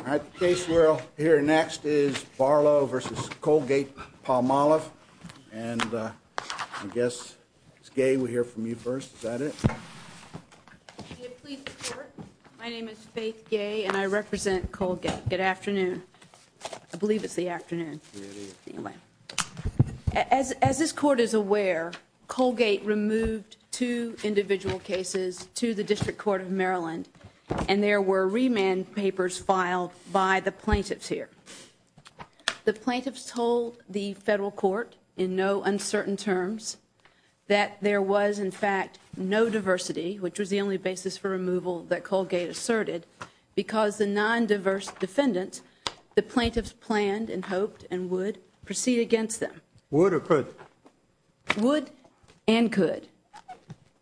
All right, the case we're here next is Barlow v. Colgate Palmolive, and I guess Sgay would hear from you first. Is that it? My name is Faith Gay, and I represent Colgate. Good afternoon. I believe it's the afternoon. As this Court is aware, Colgate removed two individual cases to the District Court of Maryland, and there were remand papers filed by the plaintiffs here. The plaintiffs told the Federal Court in no uncertain terms that there was, in fact, no diversity, which was the only basis for removal that Colgate asserted, because the non-diverse defendant, the plaintiffs planned and hoped and would proceed against them. Would or could? Would and could.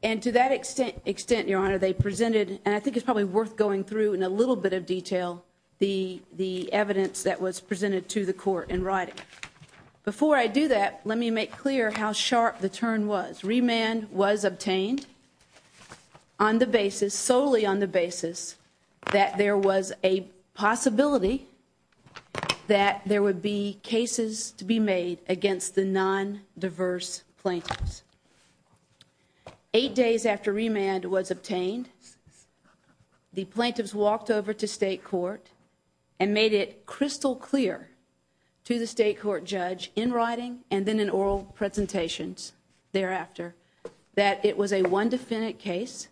And to that extent, Your Honor, they presented, and I think it's probably worth going through in a little bit of detail, the evidence that was presented to the Court in writing. Before I do that, let me make clear how sharp the turn was. Remand was obtained on the basis, solely on the basis, that there was a possibility that there would be cases to be made against the non-diverse plaintiffs. Eight days after remand was obtained, the plaintiffs walked over to State Court and made it crystal clear to the State Court judge, in writing and then in oral presentations thereafter, that it was a one-defendant case,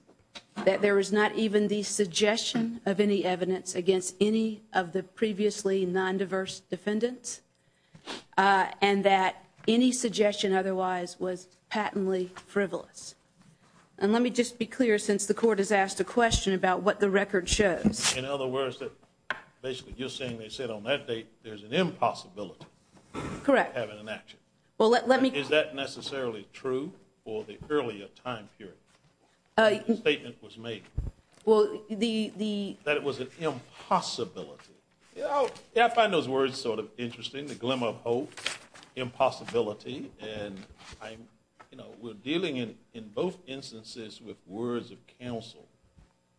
that there was not even the suggestion of any evidence against any of the previously non-diverse defendants, and that any suggestion otherwise was patently frivolous. And let me just be clear, since the Court has asked a question about what the record shows. In other words, basically, you're saying they said on that date, there's an impossibility of having an action. Correct. Is that necessarily true for the earlier time period the statement was made? Well, the… That it was an impossibility. I find those words sort of interesting, the glimmer of hope, impossibility, and we're dealing in both instances with words of counsel.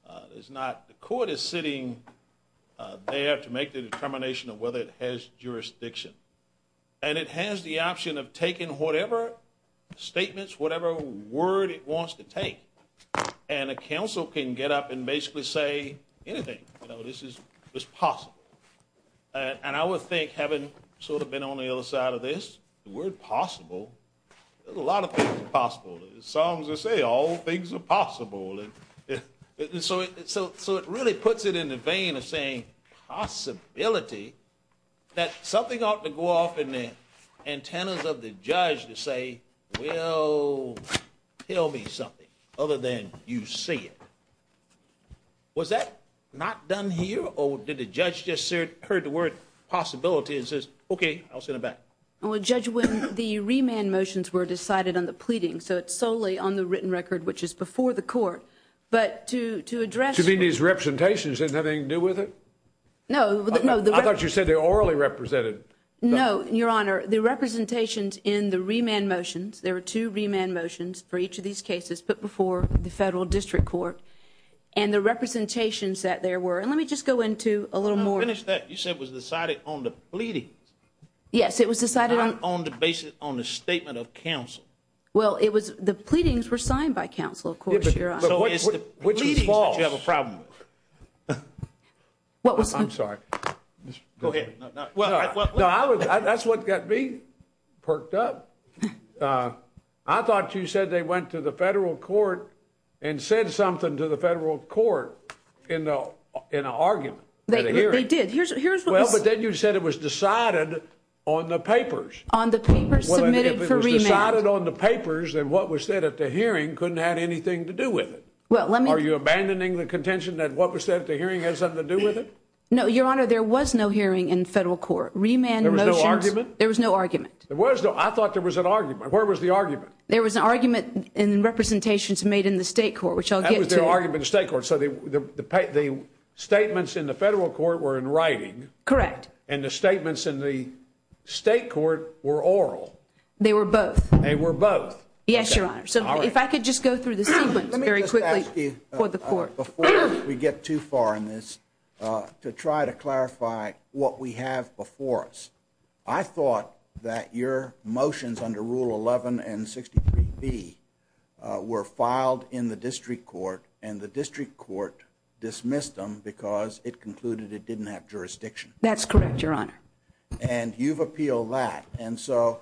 The Court is sitting there to make the determination of whether it has jurisdiction. And it has the option of taking whatever statements, whatever word it wants to take, and a counsel can get up and basically say anything. You know, this is possible. And I would think, having sort of been on the other side of this, the word possible, a lot of things are possible. As the Psalms would say, all things are possible. So it really puts it in the vein of saying possibility, that something ought to go off in the antennas of the judge to say, well, tell me something other than you see it. Was that not done here, or did the judge just hear the word possibility and says, okay, I'll send it back? Well, Judge, when the remand motions were decided on the pleading, so it's solely on the written record, which is before the Court, but to address… You mean these representations didn't have anything to do with it? No. I thought you said they were orally represented. No, Your Honor. The representations in the remand motions, there were two remand motions for each of these cases, but before the Federal District Court. And the representations that there were, and let me just go into a little more… I want to finish that. You said it was decided on the pleading. Yes, it was decided on… Not on the basis, on the statement of counsel. Well, it was, the pleadings were signed by counsel, of course, Your Honor. But what is the pleading that you have a problem with? I'm sorry. No, that's what got me perked up. I thought you said they went to the Federal Court and said something to the Federal Court in an argument. They did. Well, but then you said it was decided on the papers. On the papers submitted for remand. If it was decided on the papers, then what was said at the hearing couldn't have anything to do with it. Are you abandoning the contention that what was said at the hearing had something to do with it? No, Your Honor. There was no hearing in the Federal Court. Remand motions… There was no argument? There was no argument. There was no… I thought there was an argument. Where was the argument? There was an argument in representations made in the State Court, which I'll get to. That was the argument in the State Court. So the statements in the Federal Court were in writing. Correct. And the statements in the State Court were oral. They were both. Yes, Your Honor. So if I could just go through the statement very quickly for the Court. Before we get too far in this, to try to clarify what we have before us, I thought that your motions under Rule 11 and 63B were filed in the District Court, and the District Court dismissed them because it concluded it didn't have jurisdiction. That's correct, Your Honor. And you've appealed that. And so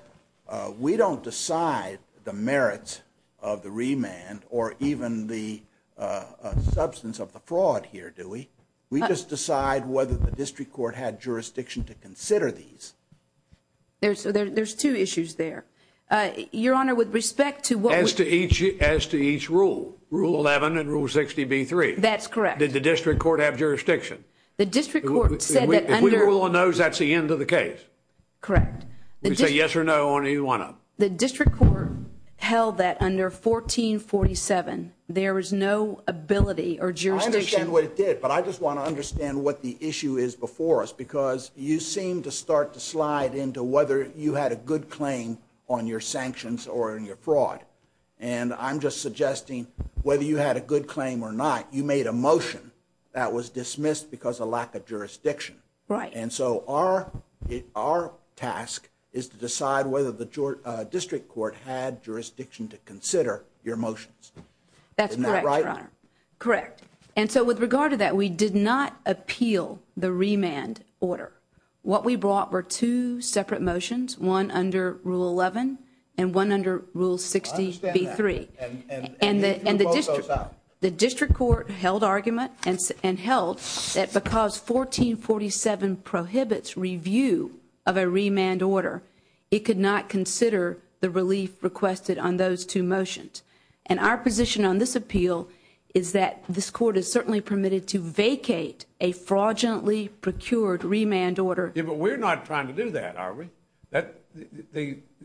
we don't decide the merits of the remand or even the substance of the fraud here, do we? We just decide whether the District Court had jurisdiction to consider these. There's two issues there. Your Honor, with respect to what… As to each rule, Rule 11 and Rule 63B. That's correct. Did the District Court have jurisdiction? The District Court said that under… If we rule on those, that's the end of the case. Correct. You can say yes or no on any one of them. The District Court held that under 1447, there was no ability or jurisdiction. I understand what it did, but I just want to understand what the issue is before us because you seem to start to slide into whether you had a good claim on your sanctions or on your fraud. And I'm just suggesting whether you had a good claim or not, you made a motion that was dismissed because of lack of jurisdiction. Right. And so, our task is to decide whether the District Court had jurisdiction to consider your motions. Isn't that right? That's correct, Your Honor. Correct. And so, with regard to that, we did not appeal the remand order. What we brought were two separate motions, one under Rule 11 and one under Rule 63. I understand that. And the rule goes on. The District Court held argument and held that because 1447 prohibits review of a remand order, it could not consider the relief requested on those two motions. And our position on this appeal is that this court is certainly permitted to vacate a fraudulently procured remand order. But we're not trying to do that, are we?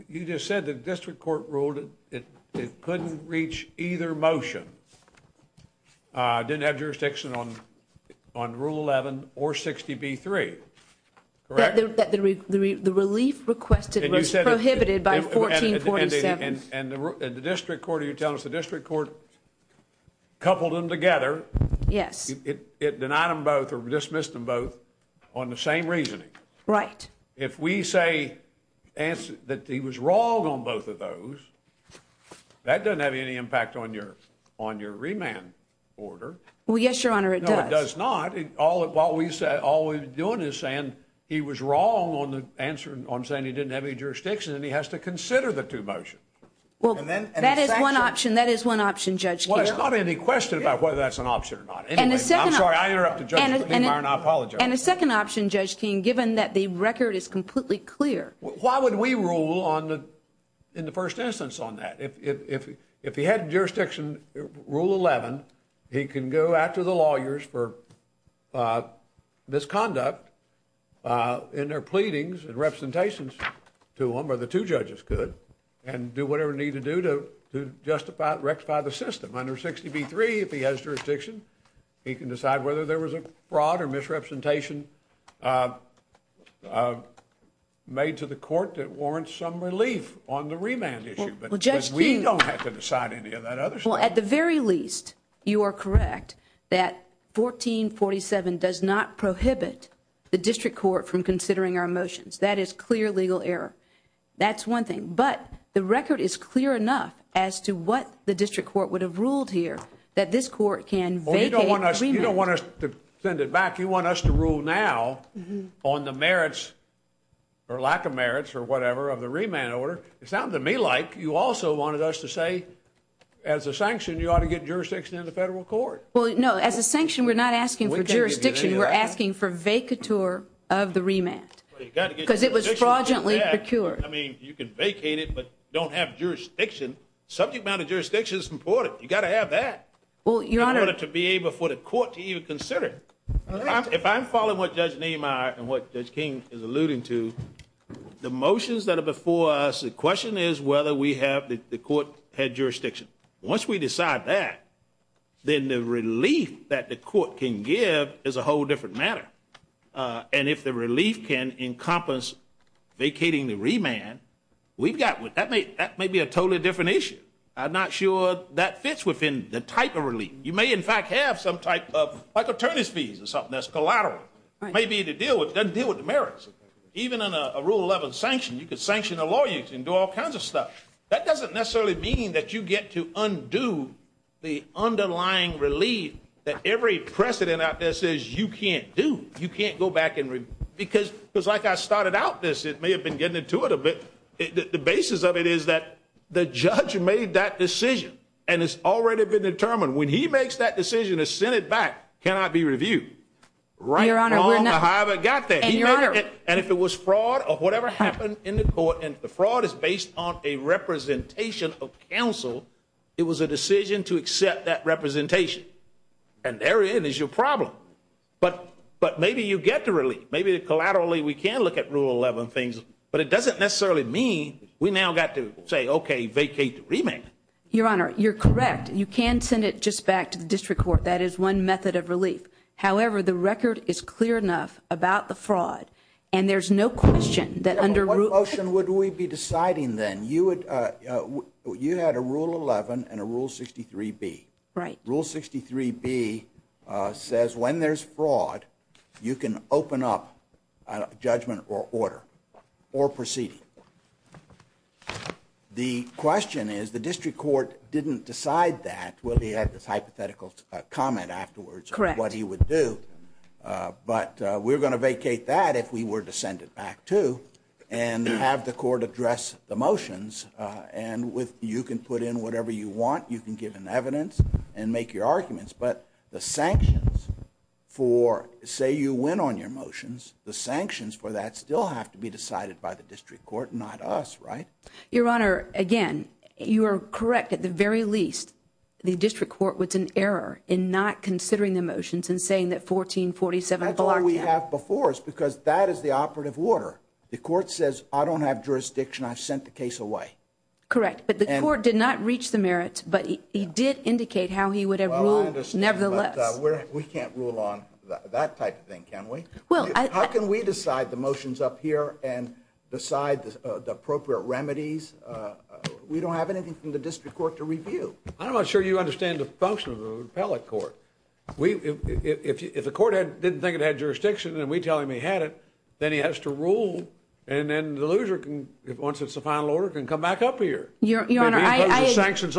You just said the District Court ruled it couldn't reach either motion, didn't have jurisdiction on Rule 11 or 63. Correct? That the relief requested was prohibited by 1447. And the District Court, you're telling us the District Court coupled them together. Yes. It denied them both or dismissed them both on the same reasoning. Right. If we say that he was wrong on both of those, that doesn't have any impact on your remand order. Well, yes, Your Honor, it does. No, it does not. All we're doing is saying he was wrong on saying he didn't have any jurisdiction, and he has to consider the two motions. Well, that is one option. That is one option, Judge Keene. Well, there's not any question about whether that's an option or not. Anyway, I'm sorry. I interrupted Judge Keene. I apologize. And a second option, Judge Keene, given that the record is completely clear. Why would we rule in the first instance on that? If he had jurisdiction on Rule 11, he can go after the lawyers for misconduct in their pleadings and representations to them, or the two judges could, and do whatever they need to do to rectify the system. Under 60B3, if he has jurisdiction, he can decide whether there was a fraud or misrepresentation made to the court that warrants some relief on the remand issue. But we don't have to decide any of that other stuff. Well, at the very least, you are correct that 1447 does not prohibit the district court from considering our motions. That is clear legal error. That's one thing. But the record is clear enough as to what the district court would have ruled here, that this court can vacate the remand. Well, you don't want us to send it back. You want us to rule now on the merits or lack of merits or whatever of the remand order. It sounded to me like you also wanted us to say, as a sanction, you ought to get jurisdiction in the federal court. Well, no. As a sanction, we're not asking for jurisdiction. We're asking for vacatur of the remand because it was fraudulently procured. I mean, you could vacate it but don't have jurisdiction. Subject matter jurisdiction is important. You've got to have that. Well, Your Honor. I want it to be able for the court to even consider it. All right. If I'm following what Judge Nehemiah and what Judge King is alluding to, the motions that are before us, the question is whether we have the court had jurisdiction. Once we decide that, then the relief that the court can give is a whole different matter. And if the relief can encompass vacating the remand, that may be a totally different issue. I'm not sure that fits within the type of relief. You may, in fact, have some type of attorney's fees or something that's collateral. It may be to deal with the merits. Even in a Rule 11 sanction, you could sanction a lawyer. You can do all kinds of stuff. That doesn't necessarily mean that you get to undo the underlying relief that every precedent out there says you can't do. You can't go back and review. Because, like I started out this, it may have been getting intuitive, but the basis of it is that the judge made that decision and it's already been determined. When he makes that decision, the Senate back cannot be reviewed. Your Honor, we're not. I haven't got that. And if it was fraud or whatever happened in the court, and the fraud is based on a representation of counsel, it was a decision to accept that representation. And therein is your problem. But maybe you get the relief. Maybe collaterally we can look at Rule 11 things. But it doesn't necessarily mean we now got to say, okay, vacate the remand. Your Honor, you're correct. You can send it just back to the district court. That is one method of relief. However, the record is clear enough about the fraud. And there's no question that under Rule – What motion would we be deciding then? You had a Rule 11 and a Rule 63B. Right. Rule 63B says when there's fraud, you can open up judgment or order or proceed. The question is the district court didn't decide that, whether he had this hypothetical comment afterwards of what he would do. Correct. But we're going to vacate that if we were to send it back, too, and have the court address the motions. And you can put in whatever you want. You can give an evidence and make your arguments. But the sanctions for – say you went on your motions, the sanctions for that still have to be decided by the district court, not us, right? Your Honor, again, you are correct at the very least. The district court was in error in not considering the motions and saying that 1447 – That's why we have the force because that is the operative order. The court says, I don't have jurisdiction. I've sent the case away. Correct. But the court did not reach the merits, but he did indicate how he would have ruled – We can't rule on that type of thing, can we? How can we decide the motions up here and decide the appropriate remedies? We don't have anything from the district court to review. I'm not sure you understand the function of the repellent court. If the court didn't think it had jurisdiction and we tell him he had it, then he has to rule. And then the loser, once it's a final order, can come back up here. Your Honor, I agree with that. And the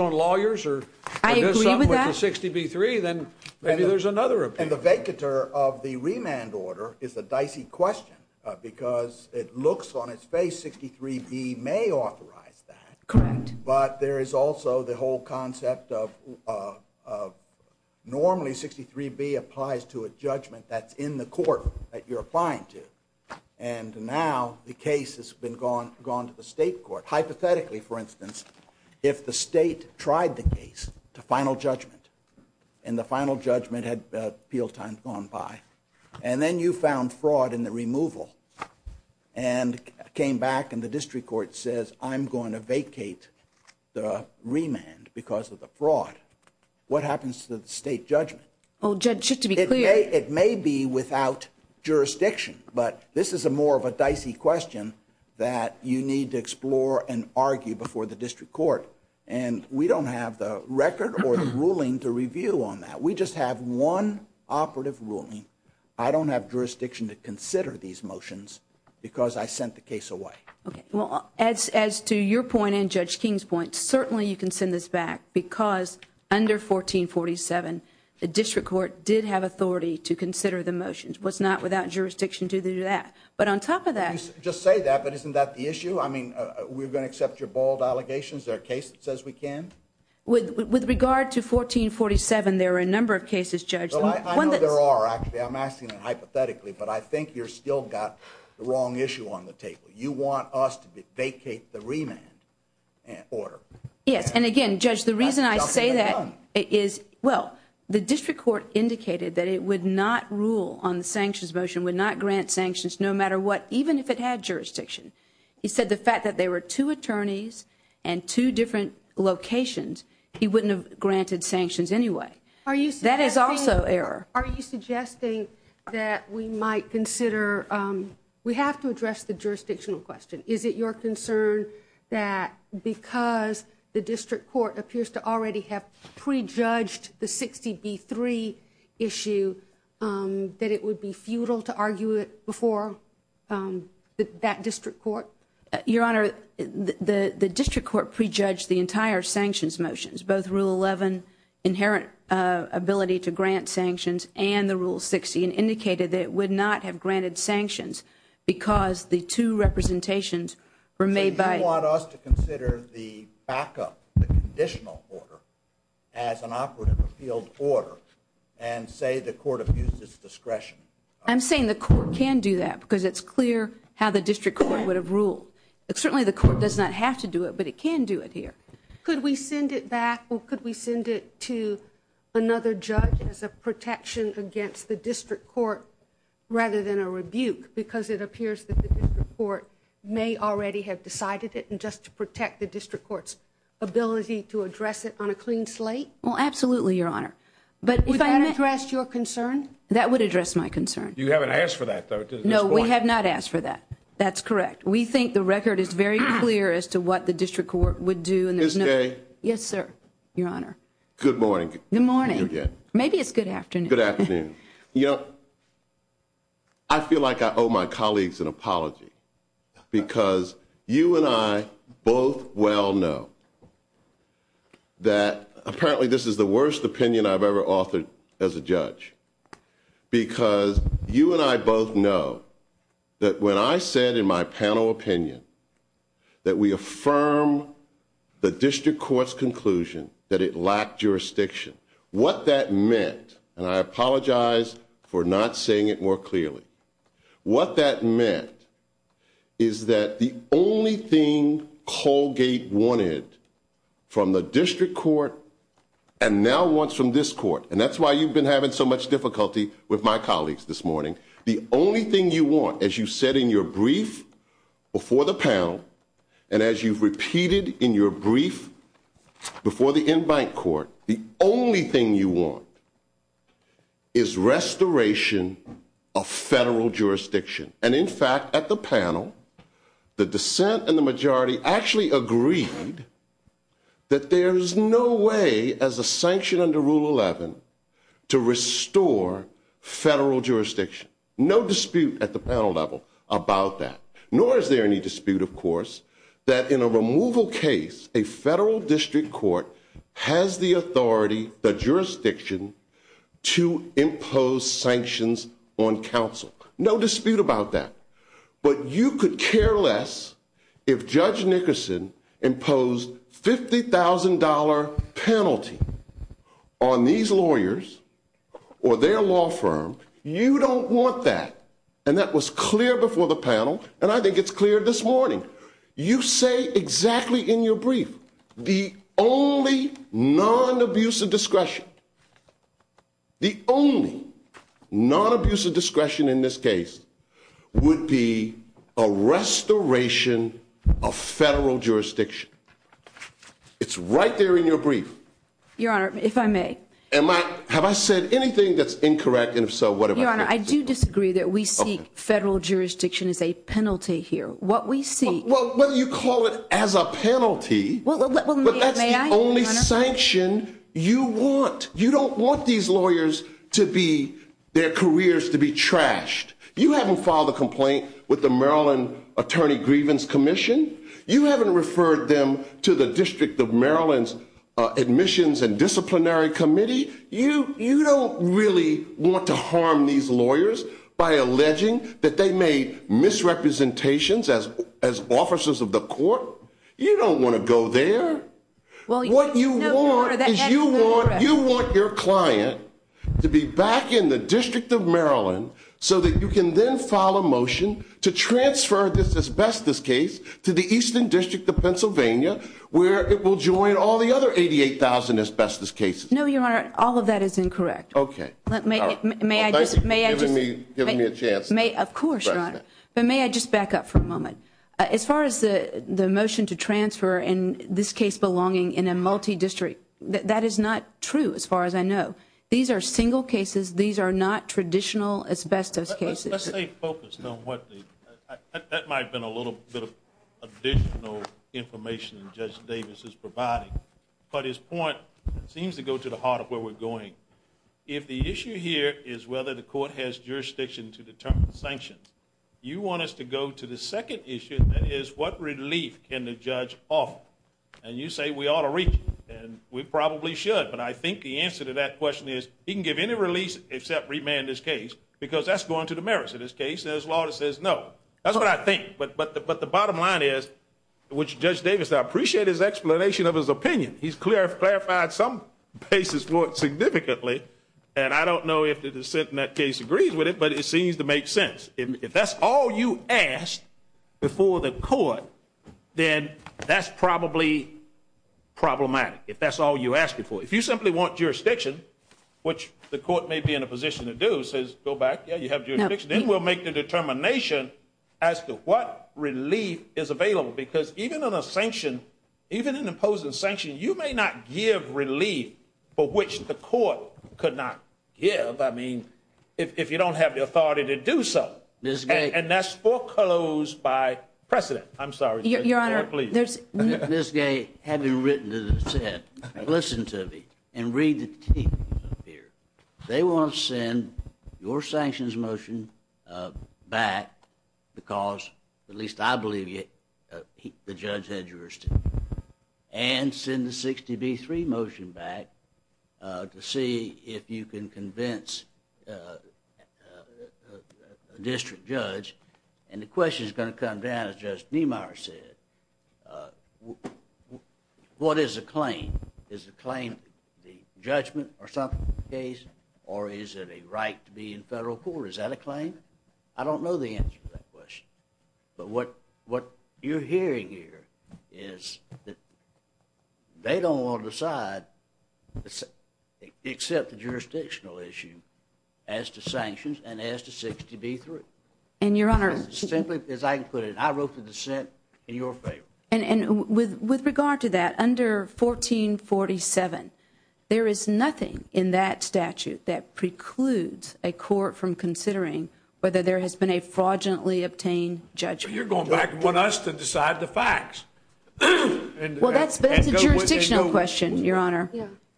vacatur of the remand order is a dicey question because it looks on its face 63B may authorize that. Correct. But there is also the whole concept of normally 63B applies to a judgment that's in the court that you're applying to. And now the case has gone to the state court. Hypothetically, for instance, if the state tried the case to final judgment and the final judgment had appealed time gone by, and then you found fraud in the removal and came back and the district court says, I'm going to vacate the remand because of the fraud, what happens to the state judgment? Well, Judge, just to be clear – Okay, it may be without jurisdiction, but this is more of a dicey question that you need to explore and argue before the district court. And we don't have the record or the ruling to review on that. We just have one operative ruling. I don't have jurisdiction to consider these motions because I sent the case away. As to your point and Judge King's point, certainly you can send this back because under 1447, the district court did have authority to consider the motions. It was not without jurisdiction to do that. But on top of that – Just say that, but isn't that the issue? I mean, we're going to accept your bald allegations. There are cases that says we can. With regard to 1447, there are a number of cases, Judge. I know there are, actually. I'm asking that hypothetically, but I think you've still got the wrong issue on the table. You want us to vacate the remand order. Yes, and again, Judge, the reason I say that is, well, the district court indicated that it would not rule on the sanctions motion, would not grant sanctions no matter what, even if it had jurisdiction. He said the fact that there were two attorneys and two different locations, he wouldn't have granted sanctions anyway. That is also error. Are you suggesting that we might consider – we have to address the jurisdictional question. Is it your concern that because the district court appears to already have prejudged the 60D3 issue, that it would be futile to argue it before that district court? Your Honor, the district court prejudged the entire sanctions motions, both Rule 11, inherent ability to grant sanctions, and the Rule 60, and indicated that it would not have granted sanctions because the two representations were made by – Do you want us to consider the backup, the conditional order, as an operative appeal order and say the court abuses discretion? I'm saying the court can do that because it's clear how the district court would have ruled. Certainly, the court does not have to do it, but it can do it here. Could we send it back, or could we send it to another judge as a protection against the district court rather than a rebuke because it appears that the district court may already have decided it, and just to protect the district court's ability to address it on a clean slate? Absolutely, Your Honor. Would that address your concern? That would address my concern. You haven't asked for that, though. No, we have not asked for that. That's correct. We think the record is very clear as to what the district court would do. Ms. Day? Yes, sir, Your Honor. Good morning. Good morning. Maybe it's good afternoon. Good afternoon. I feel like I owe my colleagues an apology because you and I both well know that apparently this is the worst opinion I've ever offered as a judge because you and I both know that when I said in my panel opinion that we affirm the district court's conclusion that it lacked jurisdiction, what that meant, and I apologize for not saying it more clearly, what that meant is that the only thing Colgate wanted from the district court and now wants from this court, and that's why you've been having so much difficulty with my colleagues this morning, the only thing you want, as you said in your brief before the panel and as you've repeated in your brief before the in-bank court, the only thing you want is restoration of federal jurisdiction. And in fact, at the panel, the dissent and the majority actually agreed that there's no way as a sanction under Rule 11 to restore federal jurisdiction. No dispute at the panel level about that. Nor is there any dispute, of course, that in a removal case, a federal district court has the authority, the jurisdiction, to impose sanctions on counsel. No dispute about that. But you could care less if Judge Nickerson imposed $50,000 penalty on these lawyers or their law firm. You don't want that. And that was clear before the panel, and I think it's clear this morning. You say exactly in your brief the only non-abusive discretion, the only non-abusive discretion in this case would be a restoration of federal jurisdiction. It's right there in your brief. Your Honor, if I may. Have I said anything that's incorrect, and if so, what have I said? Your Honor, I do disagree that we see federal jurisdiction as a penalty here. Well, whether you call it as a penalty, but that's the only sanction you want. You don't want these lawyers to be, their careers to be trashed. You haven't filed a complaint with the Maryland Attorney Grievance Commission. You haven't referred them to the District of Maryland's Admissions and Disciplinary Committee. You don't really want to harm these lawyers by alleging that they made misrepresentations as officers of the court. You don't want to go there. What you want is you want your client to be back in the District of Maryland so that you can then file a motion to transfer this asbestos case to the Eastern District of Pennsylvania, where it will join all the other 88,000 asbestos cases. No, Your Honor, all of that is incorrect. Okay. Thank you for giving me a chance. Of course, Your Honor. May I just back up for a moment? As far as the motion to transfer in this case belonging in a multi-district, that is not true as far as I know. These are single cases. These are not traditional asbestos cases. Let's stay focused on what the, that might have been a little bit of additional information that Judge Davis is providing. But his point seems to go to the heart of where we're going. If the issue here is whether the court has jurisdiction to determine sanctions, you want us to go to the second issue, and that is what relief can the judge offer? And you say we ought to release him. And we probably should. But I think the answer to that question is he can give any release except remand this case because that's going to the merits of this case. As long as there's no. That's what I think. But the bottom line is, which Judge Davis, I appreciate his explanation of his opinion. He's clarified some basis for it significantly, and I don't know if the dissent in that case agrees with it, but it seems to make sense. If that's all you asked before the court, then that's probably problematic. If that's all you asked before. If you simply want jurisdiction, which the court may be in a position to do, says go back, yeah, you have jurisdiction, then we'll make the determination as to what relief is available. Because even in a sanction, even an imposing sanction, you may not give relief for which the court could not give. I mean, if you don't have the authority to do so. And that's foreclosed by precedent. I'm sorry. Your Honor. Please. Ms. Gay, having written the dissent, listen to me and read the text here. They want to send your sanctions motion back because, at least I believe it, the judge had jurisdiction. And send the 60B3 motion back to see if you can convince a district judge. And the question is going to come down, as Justice Niemeyer said, what is the claim? Is the claim the judgment or something of the case, or is it a right to be in federal court? Is that a claim? I don't know the answer to that question. But what you're hearing here is that they don't want to decide, except the jurisdictional issue, as to sanctions and as to 60B3. And, Your Honor. Simply because I included it. I wrote the dissent in your favor. And with regard to that, under 1447, there is nothing in that statute that precludes a court from considering whether there has been a fraudulently obtained judgment. You're going back and want us to decide the facts. Well, that's the jurisdictional question, Your Honor.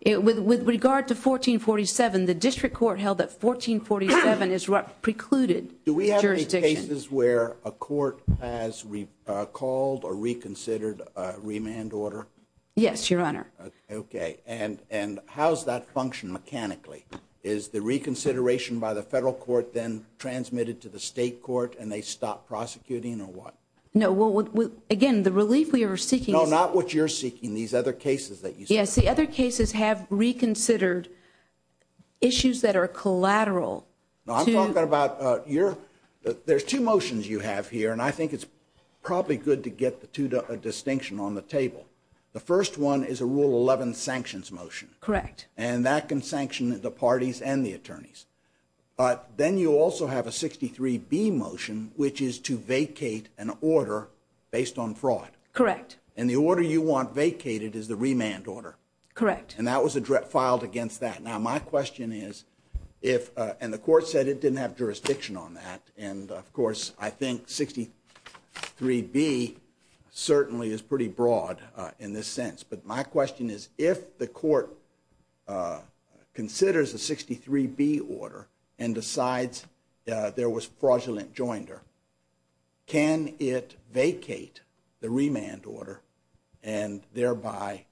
With regard to 1447, the district court held that 1447 is precluded. Do we have any cases where a court has recalled or reconsidered a remand order? Yes, Your Honor. Okay. And how does that function mechanically? Is the reconsideration by the federal court then transmitted to the state court, and they stop prosecuting, or what? No. Again, the relief we are seeking… No, not what you're seeking. These other cases that you… Yes, the other cases have reconsidered issues that are collateral. I'm talking about your… There's two motions you have here, and I think it's probably good to get the two to a distinction on the table. The first one is a Rule 11 sanctions motion. Correct. And that can sanction the parties and the attorneys. But then you also have a 63B motion, which is to vacate an order based on fraud. Correct. And the order you want vacated is the remand order. Correct. And that was filed against that. Now, my question is, and the court said it didn't have jurisdiction on that, and, of course, I think 63B certainly is pretty broad in this sense. But my question is, if the court considers a 63B order and decides there was fraudulent joinder, can it vacate the remand order and thereby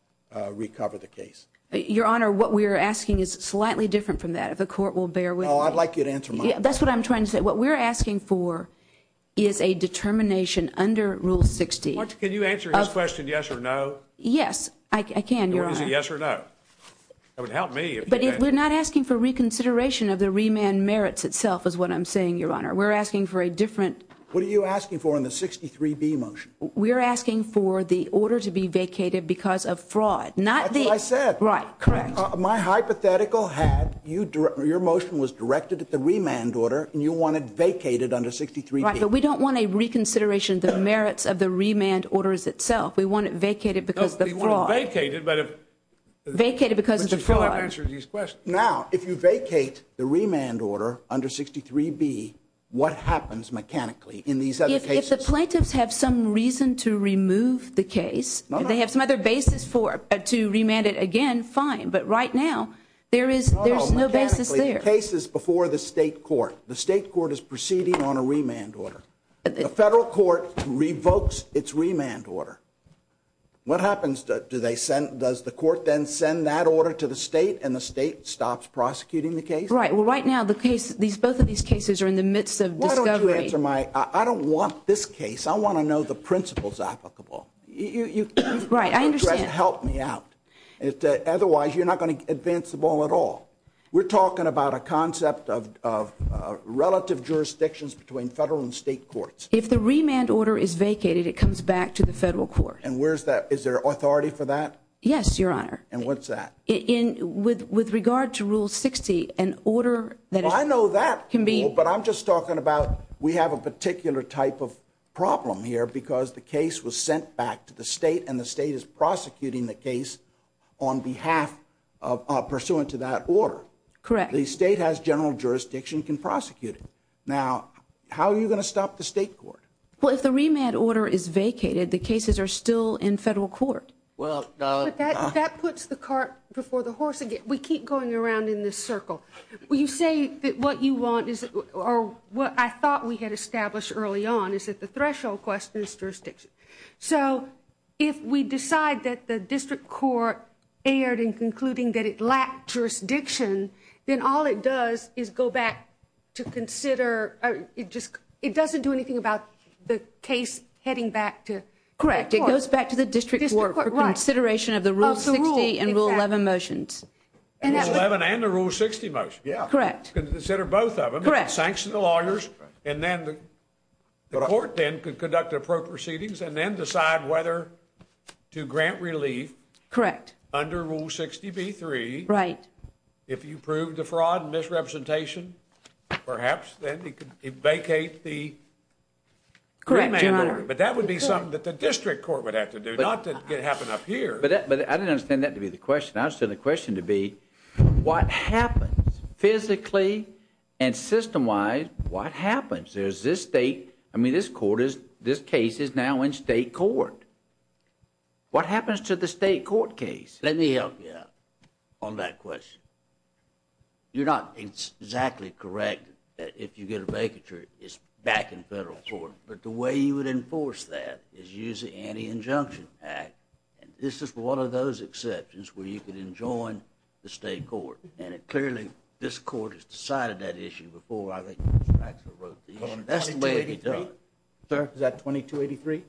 recover the case? Your Honor, what we're asking is slightly different from that, if the court will bear with me. Oh, I'd like you to answer my question. That's what I'm trying to say. What we're asking for is a determination under Rule 60. Can you answer his question yes or no? Yes, I can, Your Honor. Is it yes or no? That would help me. But we're not asking for reconsideration of the remand merits itself is what I'm saying, Your Honor. We're asking for a different… What are you asking for in the 63B motion? We're asking for the order to be vacated because of fraud, not the… That's what I said. Right. Correct. My hypothetical had your motion was directed at the remand order, and you want it vacated under 63B. Right, but we don't want a reconsideration of the merits of the remand orders itself. We want it vacated because of the fraud. No, we want it vacated, but if… Vacated because of the fraud. Which is how I answered his question. Now, if you vacate the remand order under 63B, what happens mechanically in these other cases? If the plaintiffs have some reason to remove the case, they have some other basis to remand it again, fine. But right now, there is no basis there. No, mechanically, the case is before the state court. The state court is proceeding on a remand order. The federal court revokes its remand order. What happens? Does the court then send that order to the state, and the state stops prosecuting the case? Right. Well, right now, both of these cases are in the midst of discovery. I don't want this case. I want to know the principles applicable. Right, I understand. Help me out. Otherwise, you're not going to advance the ball at all. We're talking about a concept of relative jurisdictions between federal and state courts. If the remand order is vacated, it comes back to the federal court. And where is that? Is there authority for that? Yes, Your Honor. And what's that? With regard to Rule 60, an order that is… But I'm just talking about we have a particular type of problem here because the case was sent back to the state, and the state is prosecuting the case on behalf, pursuant to that order. Correct. The state has general jurisdiction. You can prosecute it. Now, how are you going to stop the state court? Well, if the remand order is vacated, the cases are still in federal court. But that puts the cart before the horse again. We keep going around in this circle. Well, you say that what you want or what I thought we had established early on is that the threshold question is jurisdiction. So, if we decide that the district court erred in concluding that it lacked jurisdiction, then all it does is go back to consider… It doesn't do anything about the case heading back to the court. Correct. It goes back to the district court for consideration of the Rule 60 and Rule 11 motions. The Rule 11 and the Rule 60 motions. Yeah. Correct. Consider both of them. Correct. Sanction the lawyers, and then the court then could conduct the proceedings and then decide whether to grant relief… Correct. …under Rule 60b-3. Right. If you prove the fraud and misrepresentation, perhaps then you could vacate the remand order. Correct. But that would be something that the district court would have to do, not just happen up here. But I don't understand that to be the question. I understand the question to be what happens physically and system-wise, what happens? There's this state – I mean, this court is – this case is now in state court. What happens to the state court case? Let me help you out on that question. You're not exactly correct if you get a vacature, it's back in federal court. But the way you would enforce that is using the Anti-Injunction Act. And this is one of those exceptions where you can enjoin the state court. And it clearly – this court has decided that issue before I've actually wrote these. That's the way it's done. Sir, is that 2283?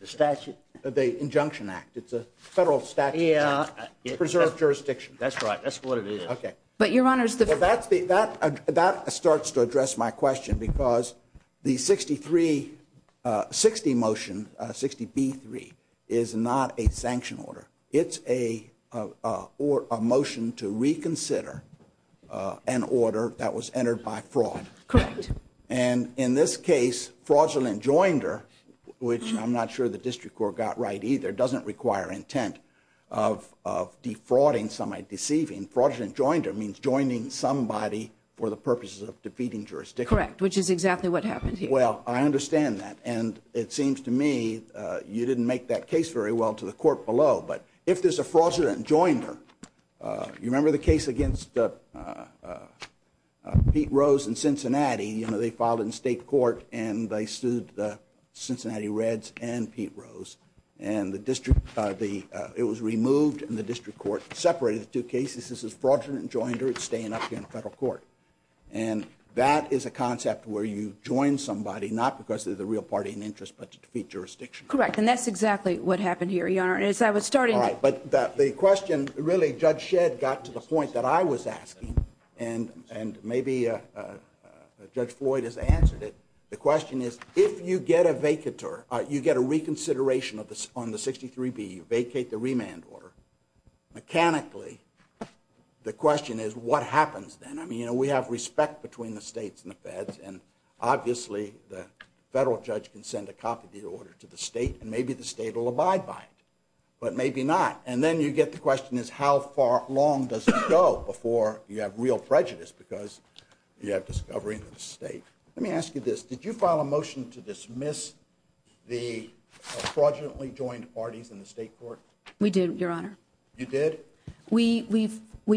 The statute. The Injunction Act. It's a federal statute. Yeah. Preserved jurisdiction. That's right. That's what it is. Okay. That starts to address my question because the 63 – 60 motion, 60B3, is not a sanction order. It's a motion to reconsider an order that was entered by fraud. Correct. And in this case, fraudulent joinder, which I'm not sure the district court got right either, doesn't require intent of defrauding somebody, deceiving. And fraudulent joinder means joining somebody for the purposes of defeating jurisdiction. Correct, which is exactly what happened here. Well, I understand that. And it seems to me you didn't make that case very well to the court below. But if there's a fraudulent joinder – you remember the case against Pete Rose in Cincinnati? You know, they filed in state court and they sued the Cincinnati Reds and Pete Rose. And the district – it was removed and the district court separated the two cases. This is fraudulent joinder. It's staying up here in the federal court. And that is a concept where you join somebody, not because they're the real party in interest, but to defeat jurisdiction. Correct. And that's exactly what happened here, Your Honor. As I was starting – All right. But the question really, Judge Shedd got to the point that I was asking, and maybe Judge Floyd has answered it. The question is, if you get a reconsideration on the 63B, vacate the remand order, mechanically the question is, what happens then? I mean, you know, we have respect between the states and the feds, and obviously the federal judge can send a copy of the order to the state, and maybe the state will abide by it, but maybe not. And then you get the question is, how far along does it go before you have real prejudice because you have discovery in the state? Let me ask you this. Did you file a motion to dismiss the fraudulently joined parties in the state court? We did, Your Honor. You did? We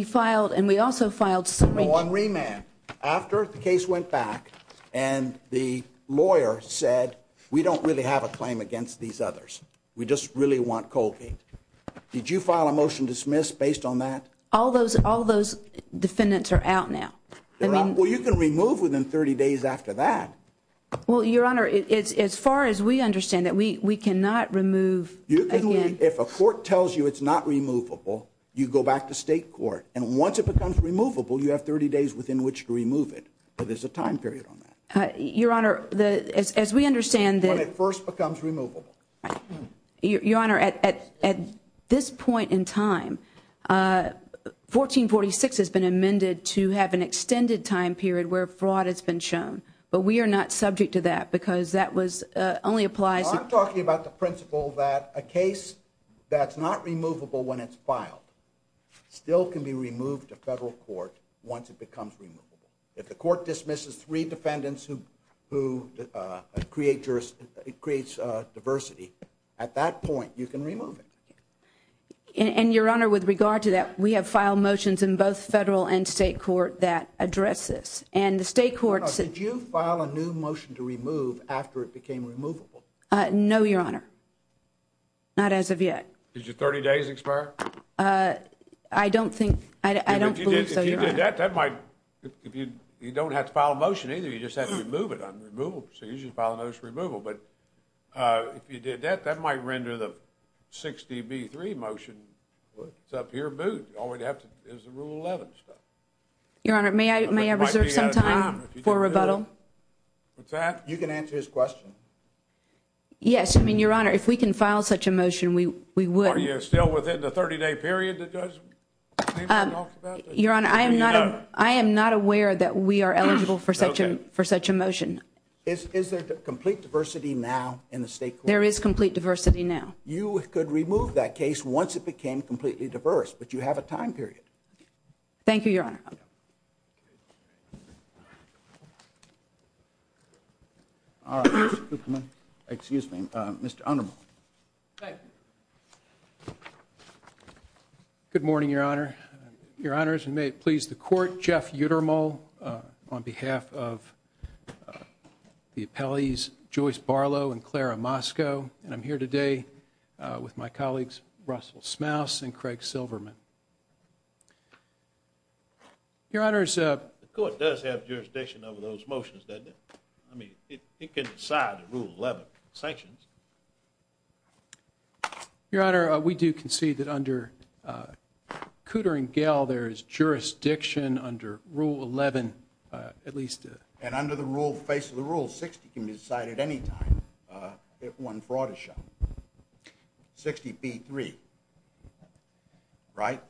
filed, and we also filed – No, on remand. After the case went back and the lawyer said, we don't really have a claim against these others. We just really want Colby. Did you file a motion to dismiss based on that? All those defendants are out now. Well, you can remove within 30 days after that. Well, Your Honor, as far as we understand it, we cannot remove again. If a court tells you it's not removable, you go back to state court, and once it becomes removable, you have 30 days within which to remove it. But there's a time period on that. Your Honor, as we understand that – When it first becomes removable. Your Honor, at this point in time, 1446 has been amended to have an extended time period where fraud has been shown. But we are not subject to that because that only applies – I'm talking about the principle that a case that's not removable when it's filed still can be removed to federal court once it becomes removable. If the court dismisses three defendants who create diversity, at that point, you can remove it. And, Your Honor, with regard to that, we have filed motions in both federal and state court that address this. And the state court – Did you file a new motion to remove after it became removable? No, Your Honor. Not as of yet. I don't think – I don't believe so, Your Honor. If you did that, that might – You don't have to file a motion, either. You just have to remove it on removal. So you can file a motion for removal. But if you did that, that might render the 60B3 motion, what's up here, moot. All we have is the Rule 11 stuff. Your Honor, may I reserve some time for rebuttal? With that, you can answer his question. Yes. I mean, Your Honor, if we can file such a motion, we would. Are you still within the 30-day period that doesn't? Your Honor, I am not aware that we are eligible for such a motion. Is there complete diversity now in the state court? There is complete diversity now. You could remove that case once it became completely diverse, but you have a time period. Thank you, Your Honor. Excuse me. Mr. Unneman. Thank you. Good morning, Your Honor. Your Honors, and may it please the Court, Jeff Uttermal on behalf of the appellees, Joyce Barlow and Clara Mosco. And I'm here today with my colleagues, Russell Smouse and Craig Silverman. Your Honors, The Court does have jurisdiction over those motions, doesn't it? I mean, it can decide Rule 11 sanctions. Your Honor, we do concede that under Cooter and Gale, there is jurisdiction under Rule 11, at least. And under the rule, in the face of the rule, 60 can be decided at any time if one brought a shot. 60B3, right?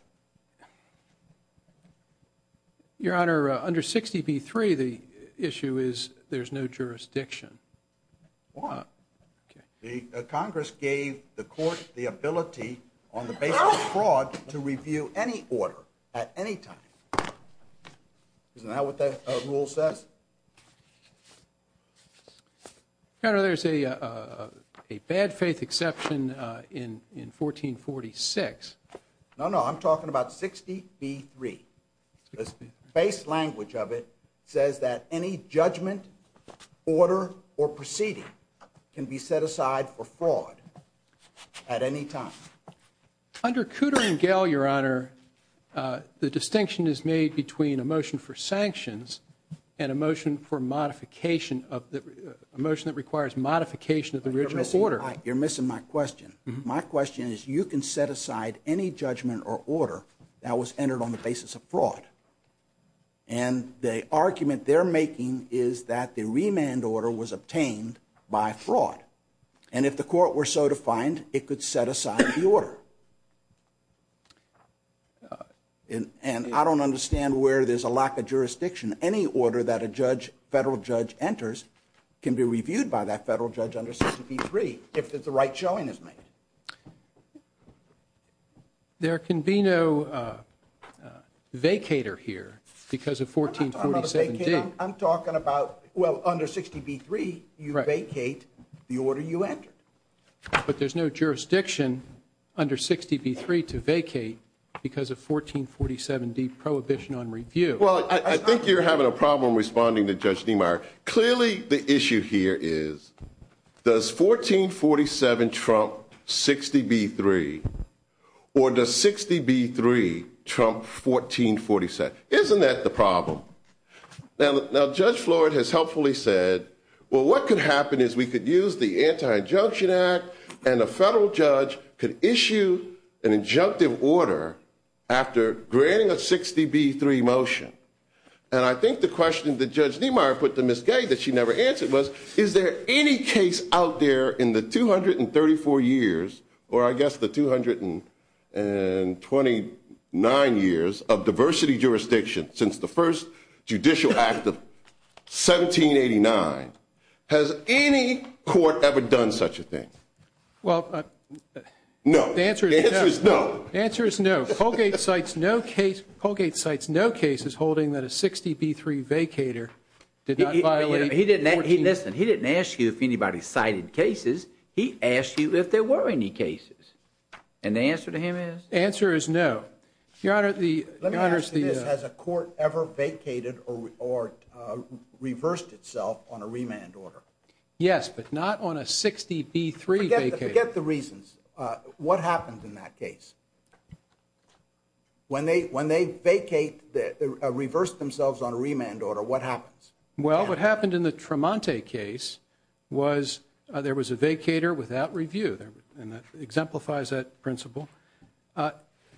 Your Honor, under 60B3, the issue is there's no jurisdiction. Why? The Congress gave the Court the ability on the basis of fraud to review any order at any time. Isn't that what that rule says? Your Honor, there's a bad faith exception in 1446. No, no, I'm talking about 60B3. The base language of it says that any judgment, order, or proceeding can be set aside for fraud at any time. Under Cooter and Gale, Your Honor, the distinction is made between a motion for sanctions and a motion that requires modification of the original order. You're missing my question. My question is you can set aside any judgment or order that was entered on the basis of fraud. And the argument they're making is that the remand order was obtained by fraud. And if the Court were so defined, it could set aside the order. And I don't understand where there's a lack of jurisdiction. Any order that a federal judge enters can be reviewed by that federal judge under 60B3 if the right showing is made. There can be no vacater here because of 1447D. I'm talking about, well, under 60B3, you vacate the order you enter. But there's no jurisdiction under 60B3 to vacate because of 1447D, Prohibition on Review. Well, I think you're having a problem responding to Judge Niemeyer. Clearly, the issue here is, does 1447 trump 60B3? Or does 60B3 trump 1447? Isn't that the problem? Now, Judge Floyd has helpfully said, well, what could happen is we could use the Anti-Injunction Act and a federal judge could issue an injunctive order after granting a 60B3 motion. And I think the question that Judge Niemeyer put to Ms. Gay that she never answered was, is there any case out there in the 234 years, or I guess the 229 years of diversity jurisdiction since the first judicial act of 1789, has any court ever done such a thing? Well, the answer is no. The answer is no. Colgate cites no cases holding that a 60B3 vacater Listen, he didn't ask you if anybody cited cases. He asked you if there were any cases. And the answer to him is? The answer is no. Your Honor, the... Let me ask you this. Has a court ever vacated or reversed itself on a remand order? Yes, but not on a 60B3 vacater. Forget the reasons. What happens in that case? When they vacate, reverse themselves on a remand order, what happens? Well, what happened in the Tremonte case was there was a vacater without review. And that exemplifies that principle.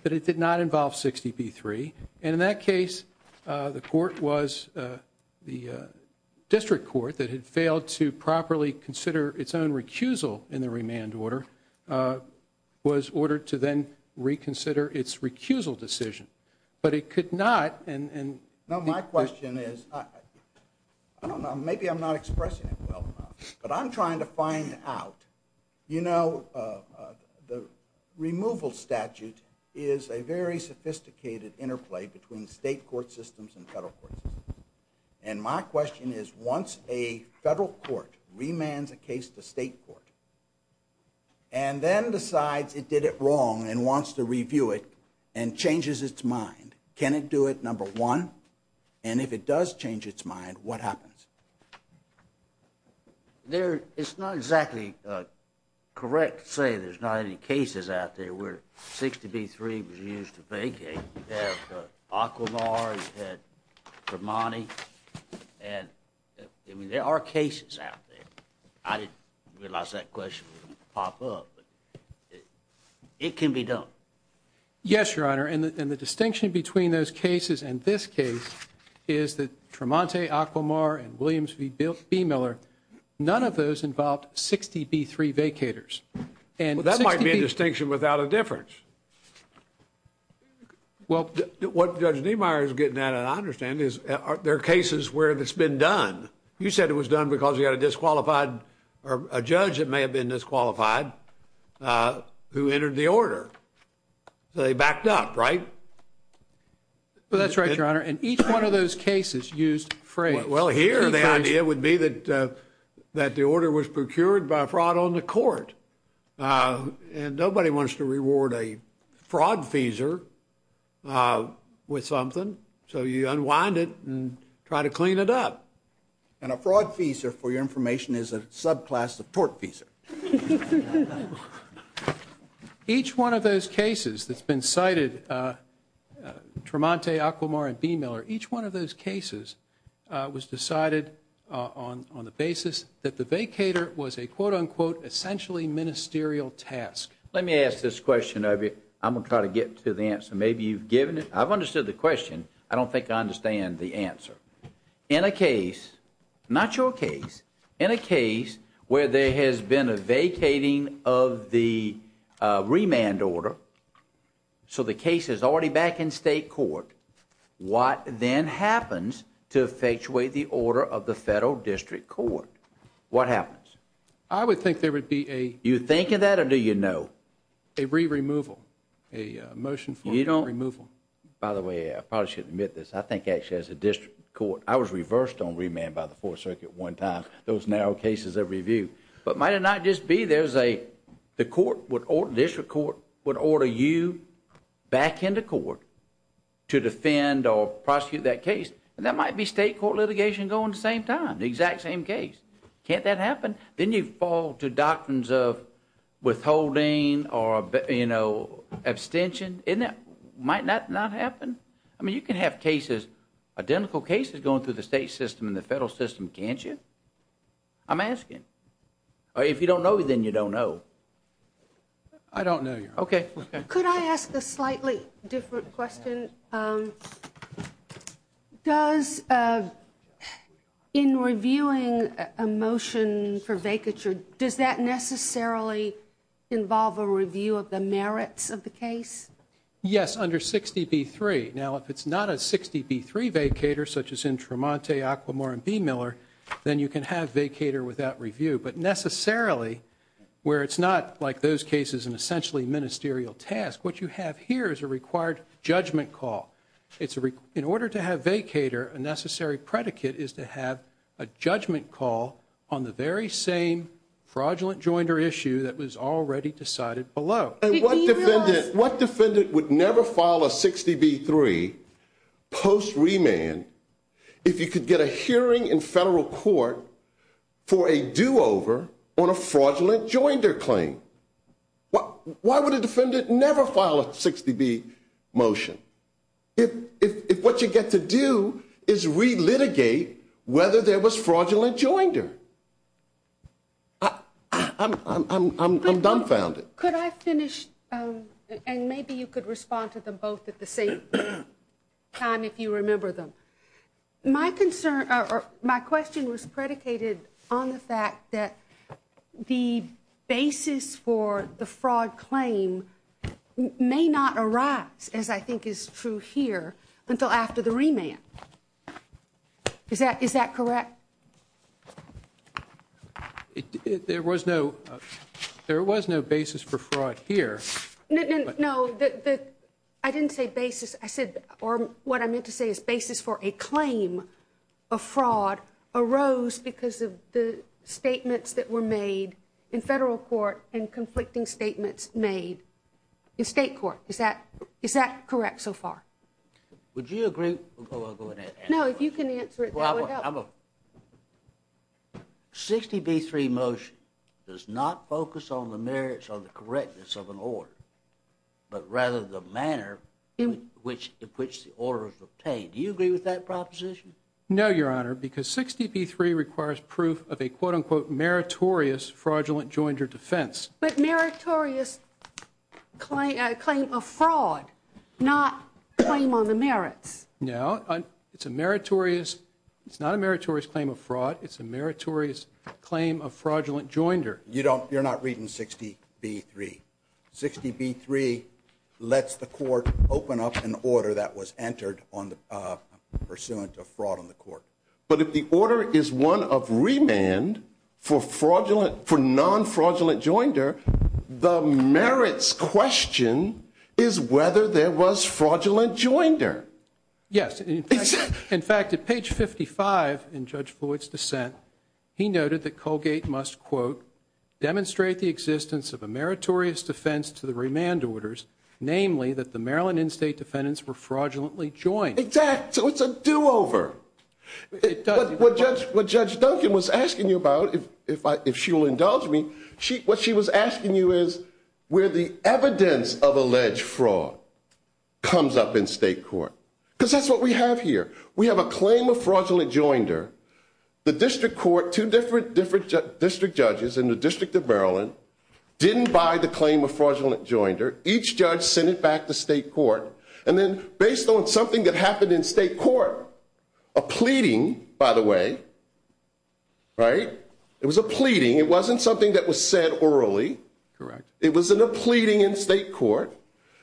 But it did not involve 60B3. And in that case, the court was the district court that had failed to properly consider its own recusal in the remand order was ordered to then reconsider its recusal decision. But it could not. No, my question is... I don't know. Maybe I'm not expressing it well enough. But I'm trying to find out. You know, the removal statute is a very sophisticated interplay between state court systems and federal courts. And my question is, once a federal court remands a case to state court and then decides it did it wrong and wants to review it and changes its mind, can it do it, number one? And if it does change its mind, what happens? It's not exactly correct to say there's not any cases out there where 60B3 was used to vacate. We have Aquamar, we've had Tremonte. And there are cases out there. I didn't realize that question would pop up. It can be done. Yes, Your Honor. And the distinction between those cases and this case is that Tremonte, Aquamar, and Williams v. Miller, none of those involved 60B3 vacators. That might be a distinction without a difference. Well, what Judge Niemeyer is getting at, and I understand, is there are cases where it's been done. You said it was done because you had a disqualified... or a judge that may have been disqualified who entered the order. They backed up, right? Well, that's right, Your Honor. And each one of those cases used... Well, here the idea would be that the order was procured by fraud on the court. And nobody wants to reward a fraud feeser with something, so you unwind it and try to clean it up. And a fraud feeser, for your information, is a subclass support feeser. Each one of those cases that's been cited, Tremonte, Aquamar, and v. Miller, each one of those cases was decided on the basis that the vacator was a quote-unquote essentially ministerial task. Let me ask this question of you. I'm going to try to get to the answer. Maybe you've given it. I've understood the question. I don't think I understand the answer. In a case, not your case, in a case where there has been a fraud and a vacating of the remand order, so the case is already back in state court, what then happens to effectuate the order of the federal district court? What happens? I would think there would be a... You thinking that or do you know? A re-removal. A motion for a re-removal. You don't... By the way, I probably should admit this. I think actually as a district court, I was reversed on remand by the 4th Circuit one time. Those narrow cases that were reviewed. But might it not just be there's a... The court would... District court would order you back into court to defend or prosecute that case. And that might be state court litigation going at the same time. The exact same case. Can't that happen? Then you fall to doctrines of withholding or, you know, abstention. Isn't that... Might that not happen? I mean, you can have cases, identical cases going through the state system and the federal system, can't you? I'm asking. If you don't know, then you don't know. I don't know, Your Honor. Okay. Could I ask a slightly different question? Does... In reviewing a motion for vacature, does that necessarily involve a review of the merits of the case? Yes, under 60B3. Now, if it's not a 60B3 vacater, such as in Tremonti, Aquamore, and B-Miller, then you can have vacater without review. But necessarily, where it's not, like those cases, an essentially ministerial task, what you have here is a required judgment call. In order to have vacater, a necessary predicate is to have a judgment call on the very same fraudulent joinder issue that was already decided below. What defendant would never file a 60B3 post-remand if you could get a hearing in federal court for a do-over on a fraudulent joinder claim? Why would a defendant never file a 60B motion if what you get to do is relitigate whether there was fraudulent joinder? I'm dumbfounded. Could I finish? And maybe you could respond to them both at the same time if you remember them. My question was predicated on the fact that the basis for the fraud claim may not arise, as I think is true here, until after the remand. Is that correct? There was no basis for fraud here. No, I didn't say basis. I said, or what I meant to say is basis for a claim of fraud arose because of the statements that were made in federal court and conflicting statements made in state court. Is that correct so far? Would you agree? No, you can answer it. 60B3 motion does not focus on the merits or the correctness of an order, but rather the manner in which the order was obtained. Do you agree with that proposition? No, Your Honor, because 60B3 requires proof of a quote-unquote meritorious fraudulent joinder defense. But meritorious claim of fraud, not claim on the merits. No, it's a meritorious, it's not a meritorious claim of fraud, it's a meritorious claim of fraudulent joinder. You're not reading 60B3. 60B3 lets the court open up an order that was entered on the pursuance of fraud on the court. But if the order is one of remand for non-fraudulent joinder, the merits question is whether there was fraudulent joinder. Yes, in fact, at page 55 in Judge Boyd's dissent, he noted that Colgate must, quote, demonstrate the existence of a meritorious defense to the remand orders, namely, that the Maryland in-state defendants were fraudulently joined. Exactly, so it's a do-over. What Judge Duncan was asking you about, if she will indulge me, what she was asking you is where the evidence of alleged fraud comes up in state court, because that's what we have here. We have a claim of fraudulent joinder. The district court, two different district judges in the District of Maryland, didn't buy the claim of fraudulent joinder. Each judge sent it back to state court, and then based on something that happened in state court, a pleading, by the way, right? It was a pleading. It wasn't something that was said orally. Correct. It was a pleading in state court.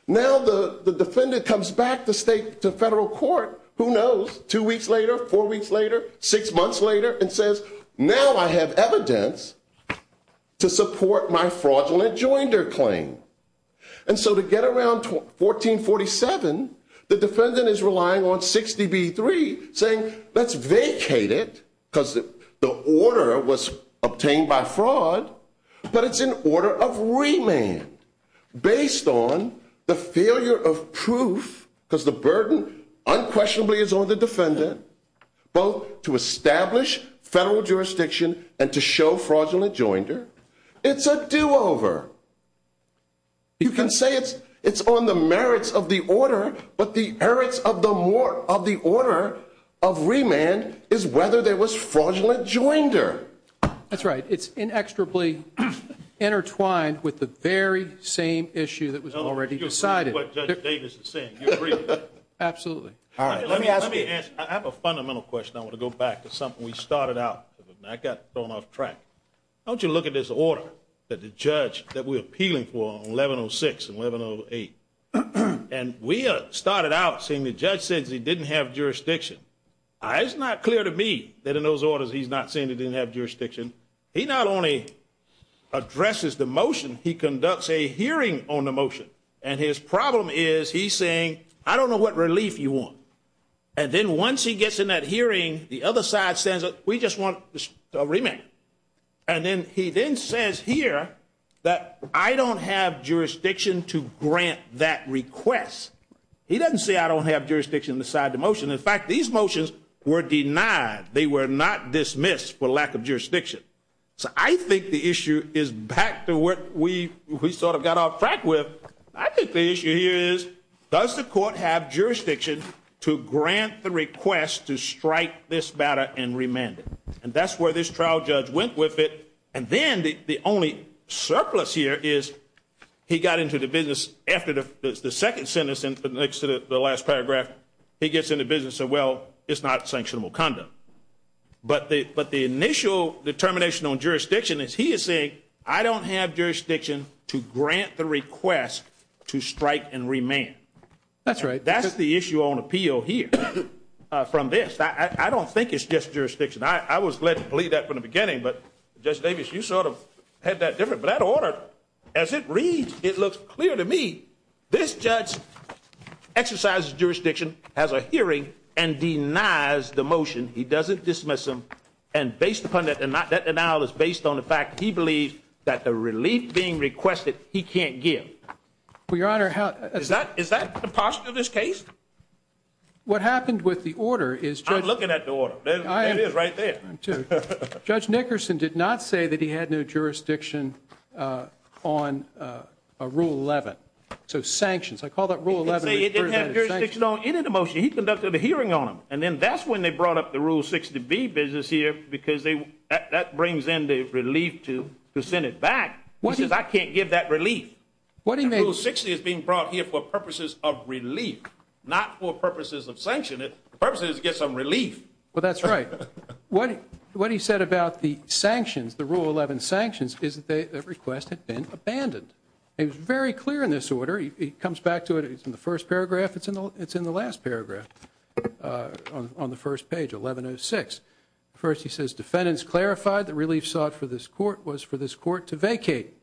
Now the defendant comes back to federal court. Who knows, two weeks later, four weeks later, six months later, and says, now I have evidence to support my fraudulent joinder claim. And so to get around 1447, the defendant is relying on 60B3, saying let's vacate it because the order was obtained by fraud, but it's an order of remand based on the failure of proof, because the burden unquestionably is on the defendant, both to establish federal jurisdiction and to show fraudulent joinder. It's a do-over. You can say it's on the merits of the order, but the merits of the order of remand is whether there was fraudulent joinder. That's right. It's inexorably intertwined with the very same issue that was already decided. You agree with what Judge Davis is saying. You agree with that? Absolutely. I have a fundamental question. I want to go back to something we started out. I got thrown off track. Don't you look at this order that the judge that we're appealing for on 1106 and 1108, and we started out saying the judge said he didn't have jurisdiction. It's not clear to me that in those orders he's not saying he didn't have jurisdiction. He not only addresses the motion, he conducts a hearing on the motion, and his problem is he's saying, I don't know what relief you want. Then once he gets in that hearing, the other side says, we just want a remand. He then says here that I don't have jurisdiction to grant that request. He doesn't say I don't have jurisdiction to decide the motion. In fact, these motions were denied. They were not dismissed for lack of jurisdiction. I think the issue is back to what we got off track with. I think the issue here is, does the court have jurisdiction to grant the request to strike this matter and remand it? That's where this trial judge went with it, and then the only surplus here is he got into the business after the second sentence and the last paragraph, he gets in the business of, well, it's not sanctionable condom. But the initial determination on jurisdiction is he is saying I don't have jurisdiction to grant the request to strike and remand. That's right. That's the issue on appeal here from this. I don't think it's just jurisdiction. I was led to believe that from the beginning, but Judge Davis, you sort of had that different. But that order, as it reads, it looks clear to me this judge exercises jurisdiction as a hearing and denies the motion. He doesn't dismiss them. And based upon that denial, it's based on the fact he believes that the relief being requested he can't get. Well, Your Honor, how... Is that the posture of this case? What happened with the order is... I'm looking at the order. There it is right there. Judge Nickerson did not say that he had no jurisdiction on Rule 11, so sanctions. I call that Rule 11. He didn't have jurisdiction on any of the motions. He conducted a hearing on them, and then that's when they brought up the Rule 60B business here because that brings in the relief to the Senate back. He says, I can't get that relief. Rule 60 is being brought here for purposes of relief, not for purposes of sanction. The purpose is to get some relief. Well, that's right. What he said about the sanctions, the Rule 11 sanctions, is that the request had been abandoned. It's very clear in this order. He comes back to it. It's in the first paragraph. It's in the last paragraph on the first page, 1106. First he says, defendants clarified the relief sought for this court was for this court to vacate.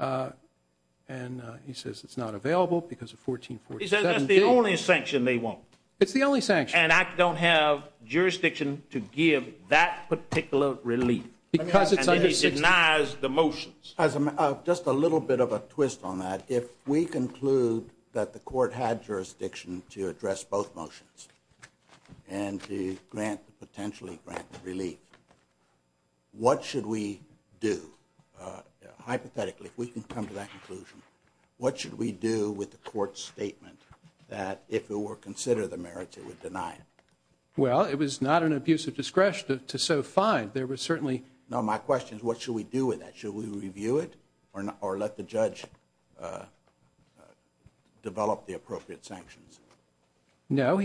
And he says it's not available because of 1447. He says that's the only sanction they want. It's the only sanction. And I don't have jurisdiction to give that particular relief. And then he denies the motions. Just a little bit of a twist on that. If we conclude that the court had jurisdiction to address both motions and to grant, potentially grant relief, what should we do? Hypothetically, if we can come to that conclusion, what should we do with the court's statement that if it were considered a merit, it would deny it? Well, it was not an abuse of discretion to so find. There was certainly... No, my question is what should we do with that? Should we review it or let the judge develop the appropriate sanctions? No,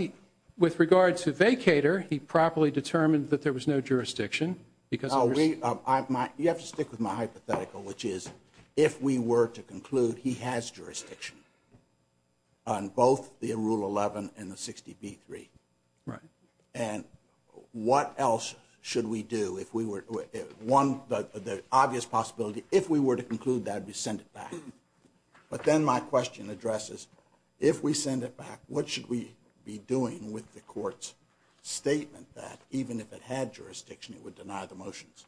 with regards to vacator, he properly determined that there was no jurisdiction. You have to stick with my hypothetical, which is if we were to conclude he has jurisdiction on both the Rule 11 and the 60B3. Right. And what else should we do if we were... One, the obvious possibility, if we were to conclude that, we send it back. But then my question addresses if we send it back, what should we be doing with the court's statement that even if it had jurisdiction, it would deny the motions?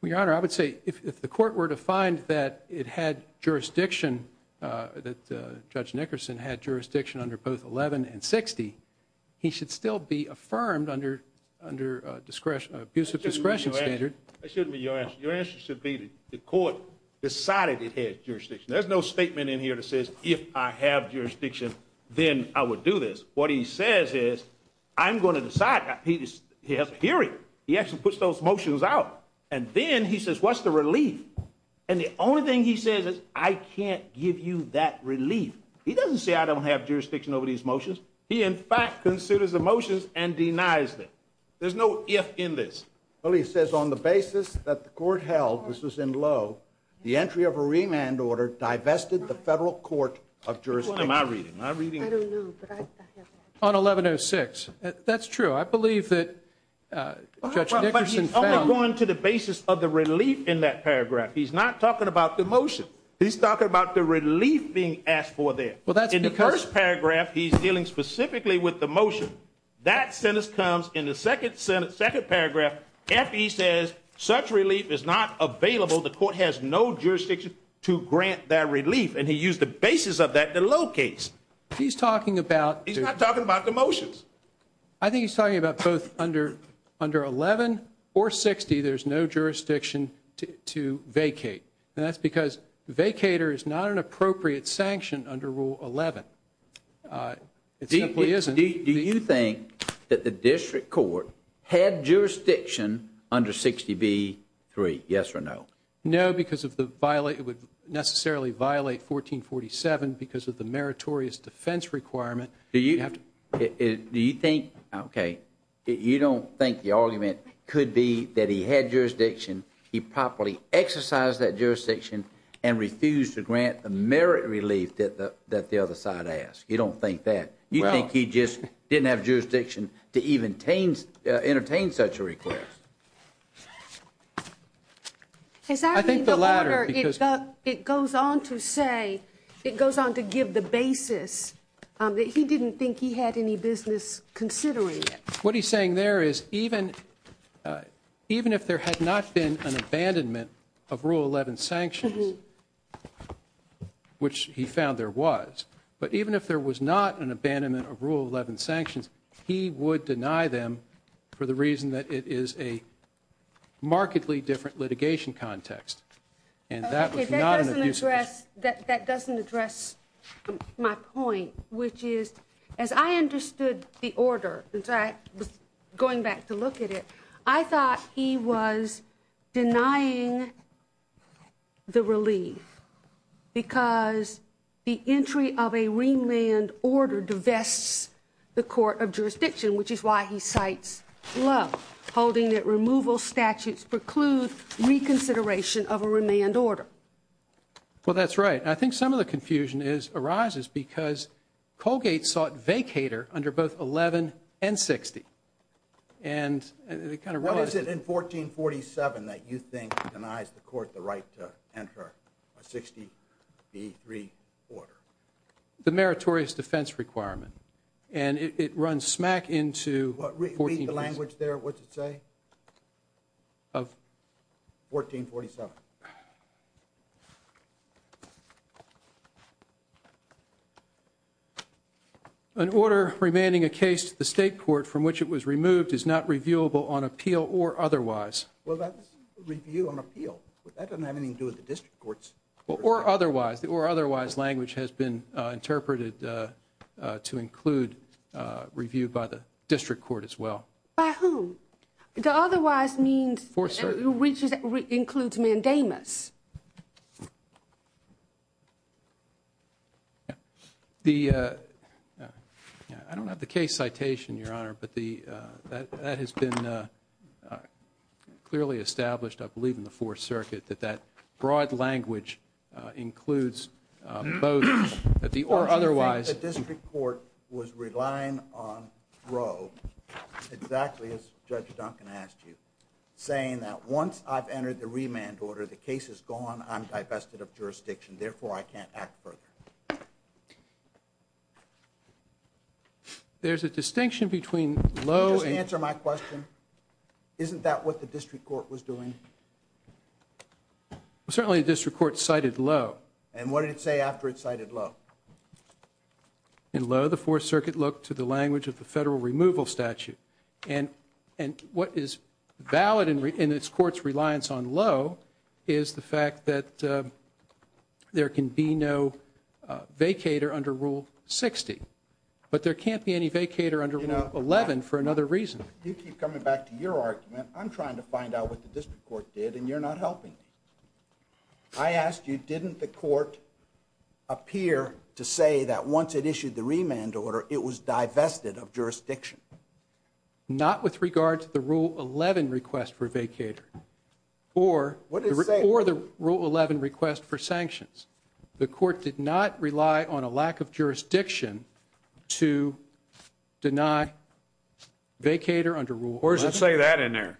Well, Your Honor, I would say if the court were to find that it had jurisdiction, that Judge Nickerson had jurisdiction under both 11 and 60, he should still be affirmed under an abuse of discretion standard. Your answer should be the court decided it had jurisdiction. There's no statement in here that says if I have jurisdiction, then I would do this. What he says is, I'm going to decide. He has a theory. He actually puts those motions out. And then he says, what's the relief? And the only thing he says is, I can't give you that relief. He doesn't say I don't have jurisdiction over these motions. He, in fact, considers the motions and denies them. There's no if in this. Well, he says on the basis that the court held, which was in low, the entry of a remand order that divested the federal court of jurisdiction. Am I reading? I don't know. On 1106. That's true. I believe that Judge Nickerson found... But he's only going to the basis of the relief in that paragraph. He's not talking about the motion. He's talking about the relief being asked for there. Well, that's because... In the first paragraph, he's dealing specifically with the motion. That sentence comes. In the second paragraph, F.E. says, such relief is not available. The court has no jurisdiction to grant that relief, and he used the basis of that to locate. He's talking about... He's not talking about the motions. I think he's talking about both under 11 or 60, there's no jurisdiction to vacate. That's because vacater is not an appropriate sanction under Rule 11. It simply isn't. Do you think that the district court had jurisdiction under 60b-3? Yes or no? No, because it would necessarily violate 1447 because of the meritorious defense requirement. Do you think... Okay. You don't think the argument could be that he had jurisdiction, he properly exercised that jurisdiction, and refused to grant a merit relief that the other side asked. You don't think that. You think he just didn't have jurisdiction to even entertain such a request. I think the latter. It goes on to say, it goes on to give the basis that he didn't think he had any business considering it. What he's saying there is, even if there had not been an abandonment of Rule 11 sanctions, which he found there was, but even if there was not an abandonment of Rule 11 sanctions, he would deny them for the reason that it is a markedly different litigation context. That doesn't address my point, which is, as I understood the order, going back to look at it, I thought he was denying the relief because the entry of a remand order divests the court of jurisdiction, which is why he cites Love, holding that removal statutes preclude reconsideration of a remand order. Well, that's right. I think some of the confusion arises because Colgate sought vacator under both 11 and 60. What is it in 1447 that you think denies the court the right to enter a 60 v. 3 order? The meritorious defense requirement. And it runs smack into 1447. Repeat the language there, what's it say? Of? 1447. An order remanding a case to the state court from which it was removed is not reviewable on appeal or otherwise. Well, that's review on appeal. That doesn't have anything to do with the district courts. Or otherwise. Or otherwise language has been interpreted to include review by the district court as well. By whom? The otherwise means which includes mandamus. I don't have the case citation, Your Honor, but that has been clearly established, I believe, in the Fourth Circuit that that broad language includes both the or otherwise. The district court was relying on Roe, exactly as Judge Duncan asked you, saying that once I've entered the remand order, the case is gone, I'm divested of jurisdiction, therefore I can't act further. There's a distinction between low and... Can you just answer my question? Isn't that what the district court was doing? Certainly the district court cited low. And what did it say after it cited low? In low, the Fourth Circuit looked to the language of the federal removal statute. And what is valid in this court's reliance on low is the fact that there can be no vacator under Rule 60. But there can't be any vacator under Rule 11 for another reason. You keep coming back to your argument. I'm trying to find out what the district court did and you're not helping me. I asked you, didn't the court appear to say that once it issued the remand order, it was divested of jurisdiction? Not with regard to the Rule 11 request for vacator. Or the Rule 11 request for sanctions. The court did not rely on a lack of jurisdiction to deny vacator under Rule 60. Where does it say that in there?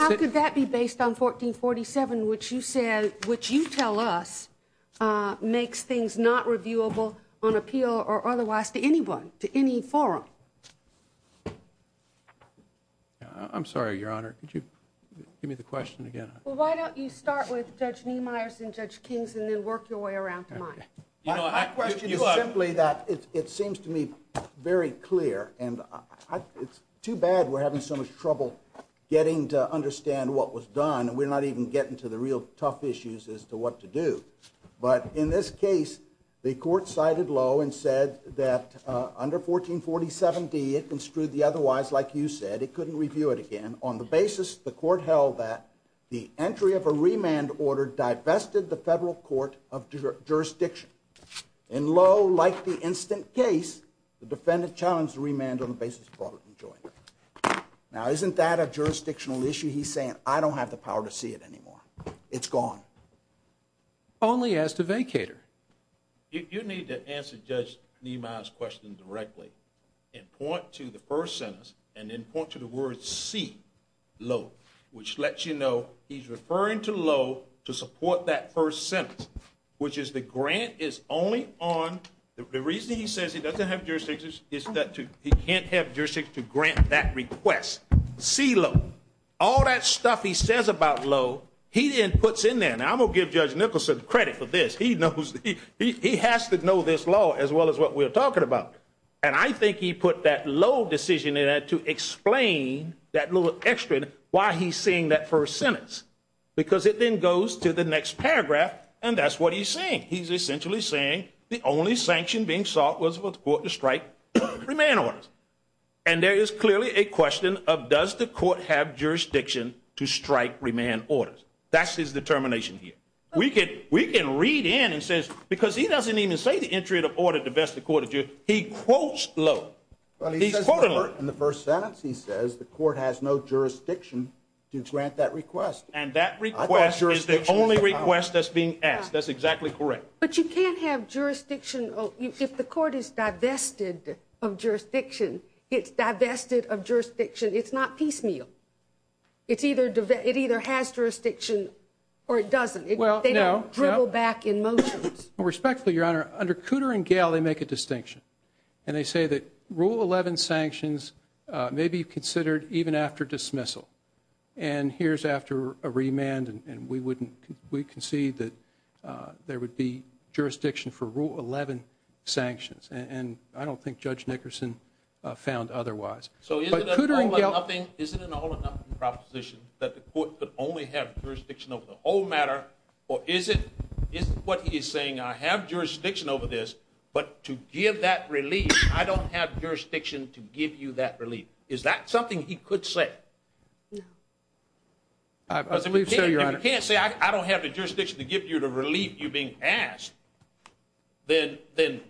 How could that be based on 1447, which you tell us makes things not reviewable on appeal or otherwise to anyone, to any forum? I'm sorry, Your Honor. Could you give me the question again? Well, why don't you start with Judge Neumeyer and Judge Kings and then work your way around to mine. My question is simply that it seems to me very clear. And it's too bad we're having so much trouble getting to understand what was done. We're not even getting to the real tough issues as to what to do. But in this case, the court cited Lowe and said that under 1447d, it construed the otherwise like you said. It couldn't review it again. On the basis the court held that the entry of a remand order divested the federal court of jurisdiction. And Lowe, like the instant case, the defendant challenged the remand on the basis of the court of jurisdiction. Now, isn't that a jurisdictional issue? He's saying, I don't have the power to see it anymore. It's gone. Only as the vacator. You need to answer Judge Neumeyer's question directly and point to the first sentence and then point to the word see Lowe, which lets you know he's referring to Lowe to support that first sentence, which is the grant is only on, the reason he says he doesn't have jurisdiction is that he can't have jurisdiction to grant that request. See Lowe. All that stuff he says about Lowe, he then puts in there. Now, I'm going to give Judge Nicholson credit for this. He knows, he has to know this law as well as what we're talking about. And I think he put that Lowe decision in there to explain that little extra, why he's saying that first sentence. Because it then goes to the next paragraph and that's what he's saying. He's essentially saying the only sanction being sought was for the court to strike remand orders. And there is clearly a question of, does the court have jurisdiction to strike remand orders? That's his determination here. We can read in and say, because he doesn't even say the entry of the order to vest the court of jurisdiction, he quotes Lowe. In the first sentence he says, the court has no jurisdiction to grant that request. And that request is the only request that's being asked. That's exactly correct. But you can't have jurisdiction. If the court is divested of jurisdiction, it's divested of jurisdiction. It's not piecemeal. It either has jurisdiction or it doesn't. They don't dribble back in motions. Respectfully, Your Honor, under Cooter and Gale, they make a distinction. And they say that Rule 11 sanctions may be considered even after dismissal. And here's after a remand and we concede that there would be jurisdiction for Rule 11 sanctions. And I don't think Judge Nickerson found otherwise. So is it an all-or-nothing proposition that the court could only have jurisdiction over the whole matter? Or is it what he's saying, I have jurisdiction over this, but to give that relief, I don't have jurisdiction to give you that relief. Is that something he could say? No. I believe so, Your Honor. But if he can't say, I don't have the jurisdiction to give you the relief you're being asked, then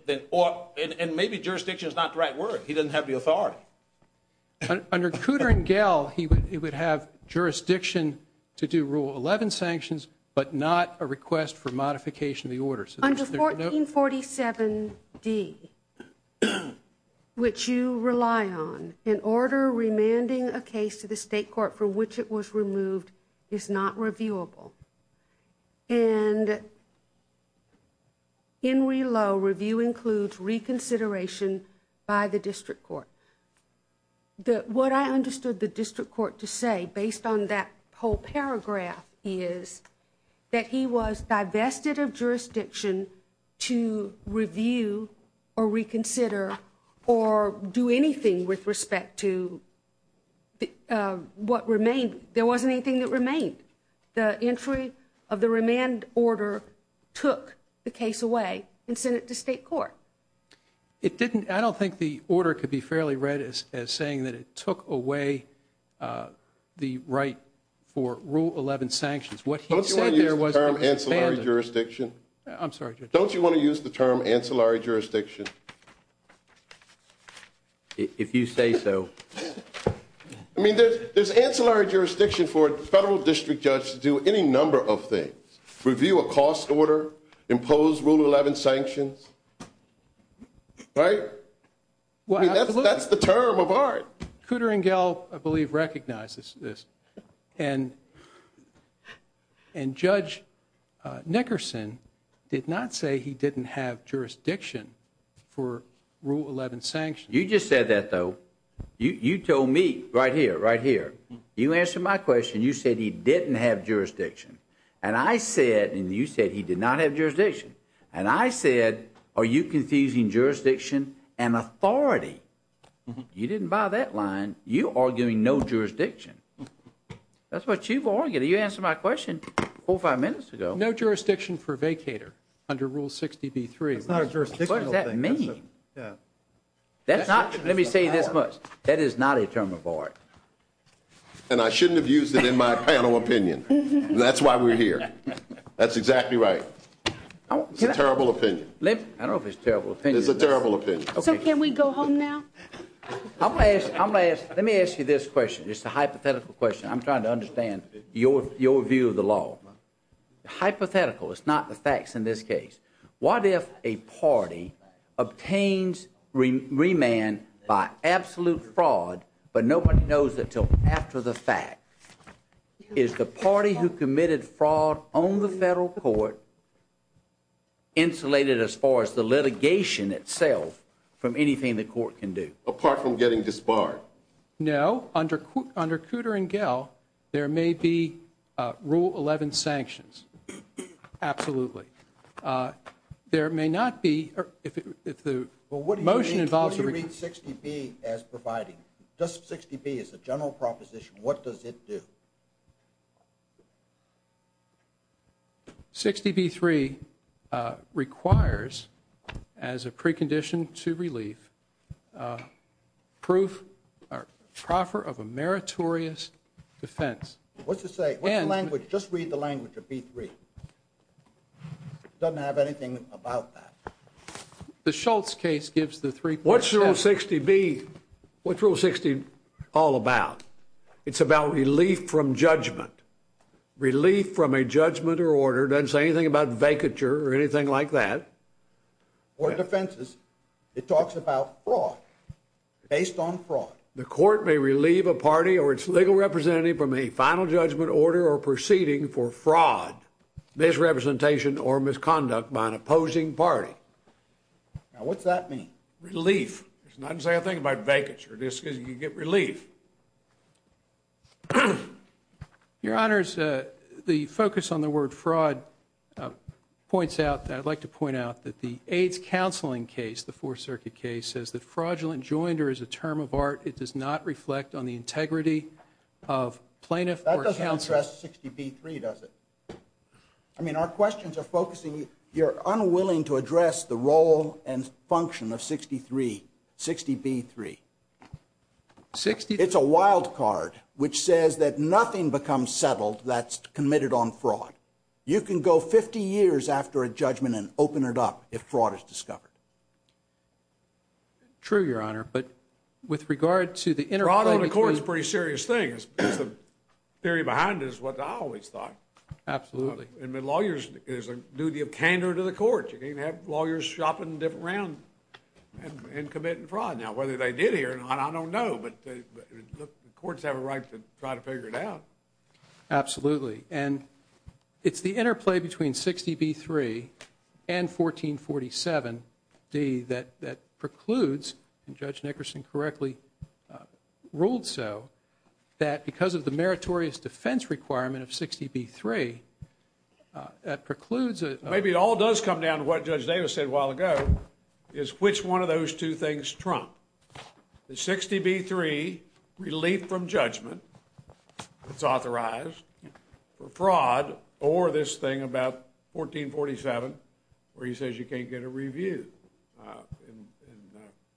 maybe jurisdiction is not the right word. He doesn't have the authority. Under Cooter and Gale, he would have jurisdiction to do Rule 11 sanctions, but not a request for modification of the order. Under 1447D, which you rely on, an order remanding a case to the state court for which it was removed is not reviewable. And in Relow, review includes reconsideration by the district court. What I understood the district court to say, based on that whole paragraph, is that he was divested of jurisdiction to review or reconsider or do anything with respect to what remained. There wasn't anything that remained. The entry of the remand order took the case away and sent it to state court. I don't think the order could be fairly read as saying that it took away the right for Rule 11 sanctions. Don't you want to use the term ancillary jurisdiction? I'm sorry, Judge. If you say so. I mean, there's ancillary jurisdiction for a federal district judge to do any number of things. Review a cost order, impose Rule 11 sanctions. Right? That's the term of art. Cooter and Gale, I believe, recognizes this. And Judge Nickerson did not say he didn't have jurisdiction for Rule 11 sanctions. You just said that, though. You told me right here, right here. You answered my question. You said he didn't have jurisdiction. And I said, and you said he did not have jurisdiction. And I said, are you confusing jurisdiction and authority? You didn't buy that line. You're arguing no jurisdiction. That's what you've argued. You answered my question four or five minutes ago. No jurisdiction for vacator under Rule 60B3. What does that mean? That's not, let me say this much. That is not a term of art. And I shouldn't have used it in my panel opinion. And that's why we're here. That's exactly right. Terrible opinion. I don't know if it's a terrible opinion. It's a terrible opinion. So can we go home now? Let me ask you this question. It's a hypothetical question. I'm trying to understand your view of the law. Hypothetical. It's not the facts in this case. What if a party obtains remand by absolute fraud, but no one knows it until after the fact? Is the party who committed fraud on the federal court insulated as far as the litigation itself from anything the court can do? Apart from getting disbarred. No. Under Cooter and Gell, there may be Rule 11 sanctions. Absolutely. There may not be, if the motion involves- What do you mean 60B as providing? Just 60B as a general proposition, what does it do? 60B3 requires as a precondition to relief, proof, or proffer of a meritorious defense. What's it say? What's the language? Just read the language of B3. It doesn't have anything about that. The Schultz case gives the three- What's Rule 60B all about? It's about relief from judgment. Relief from a judgment or order. It doesn't say anything about vacature or anything like that. Or defenses. It talks about fraud. Based on fraud. The court may relieve a party or its legal representative from a final judgment, order, or proceeding for fraud, misrepresentation, or misconduct by an opposing party. Now what's that mean? Relief. It doesn't say a thing about vacature. You get relief. Your Honors, the focus on the word fraud points out that I'd like to point out that the age counseling case, the Fourth Circuit case, says that fraudulent joinder is a term of art. It does not reflect on the integrity of plaintiff or counsel. That doesn't address 60B3, does it? I mean, our questions are focusing. You're unwilling to address the role and function of 63, 60B3. It's a wild card, which says that nothing becomes settled that's committed on fraud. You can go 50 years after a judgment and open it up if fraud is discovered. True, Your Honor. But with regard to the interplay between… Fraud on the court is a pretty serious thing. The theory behind it is what I always thought. Absolutely. And the lawyers, it is a duty of candor to the court. You can't have lawyers shopping around and committing fraud. Now, whether they did here, I don't know, but the courts have a right to try to figure it out. Absolutely. And it's the interplay between 60B3 and 1447d that precludes, and Judge Nickerson correctly ruled so, that because of the meritorious defense requirement of 60B3, that precludes… Maybe it all does come down to what Judge Davis said a while ago, is which one of those two things trumped. The 60B3, relief from judgment, is authorized for fraud, or this thing about 1447, where he says you can't get a review.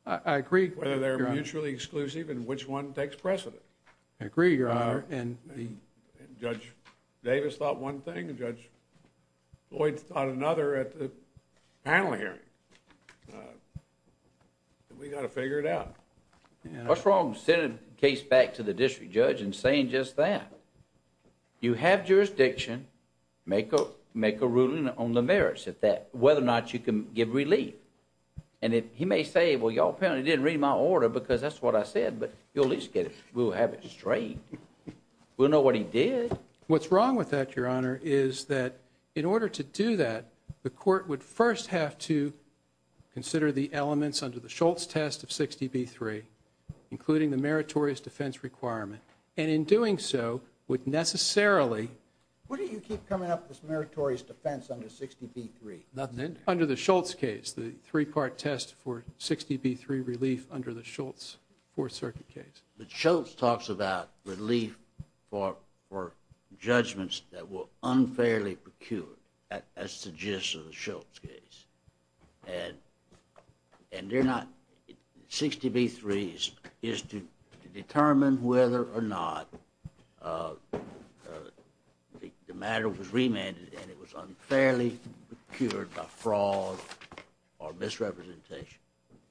I agree, Your Honor. Whether they're mutually exclusive and which one takes precedent. I agree, Your Honor. Judge Davis thought one thing and Judge Lloyd thought another at the panel hearing. We've got to figure it out. What's wrong with sending a case back to the district judge and saying just that? You have jurisdiction, make a ruling on the merits of that, whether or not you can give relief. And he may say, well, y'all apparently didn't read my order because that's what I said, but at least we'll have it straight. We'll know what he did. What's wrong with that, Your Honor, is that in order to do that, the court would first have to consider the elements under the Schultz test of 60B3, including the meritorious defense requirement. And in doing so, would necessarily… Where do you keep coming up with meritorious defense under 60B3? Under the Schultz case, the three-part test for 60B3 relief under the Schultz Fourth Circuit case. Schultz talks about relief for judgments that were unfairly procured. That's the gist of the Schultz case. And 60B3 is to determine whether or not the matter was remanded and it was unfairly procured by fraud or misrepresentation.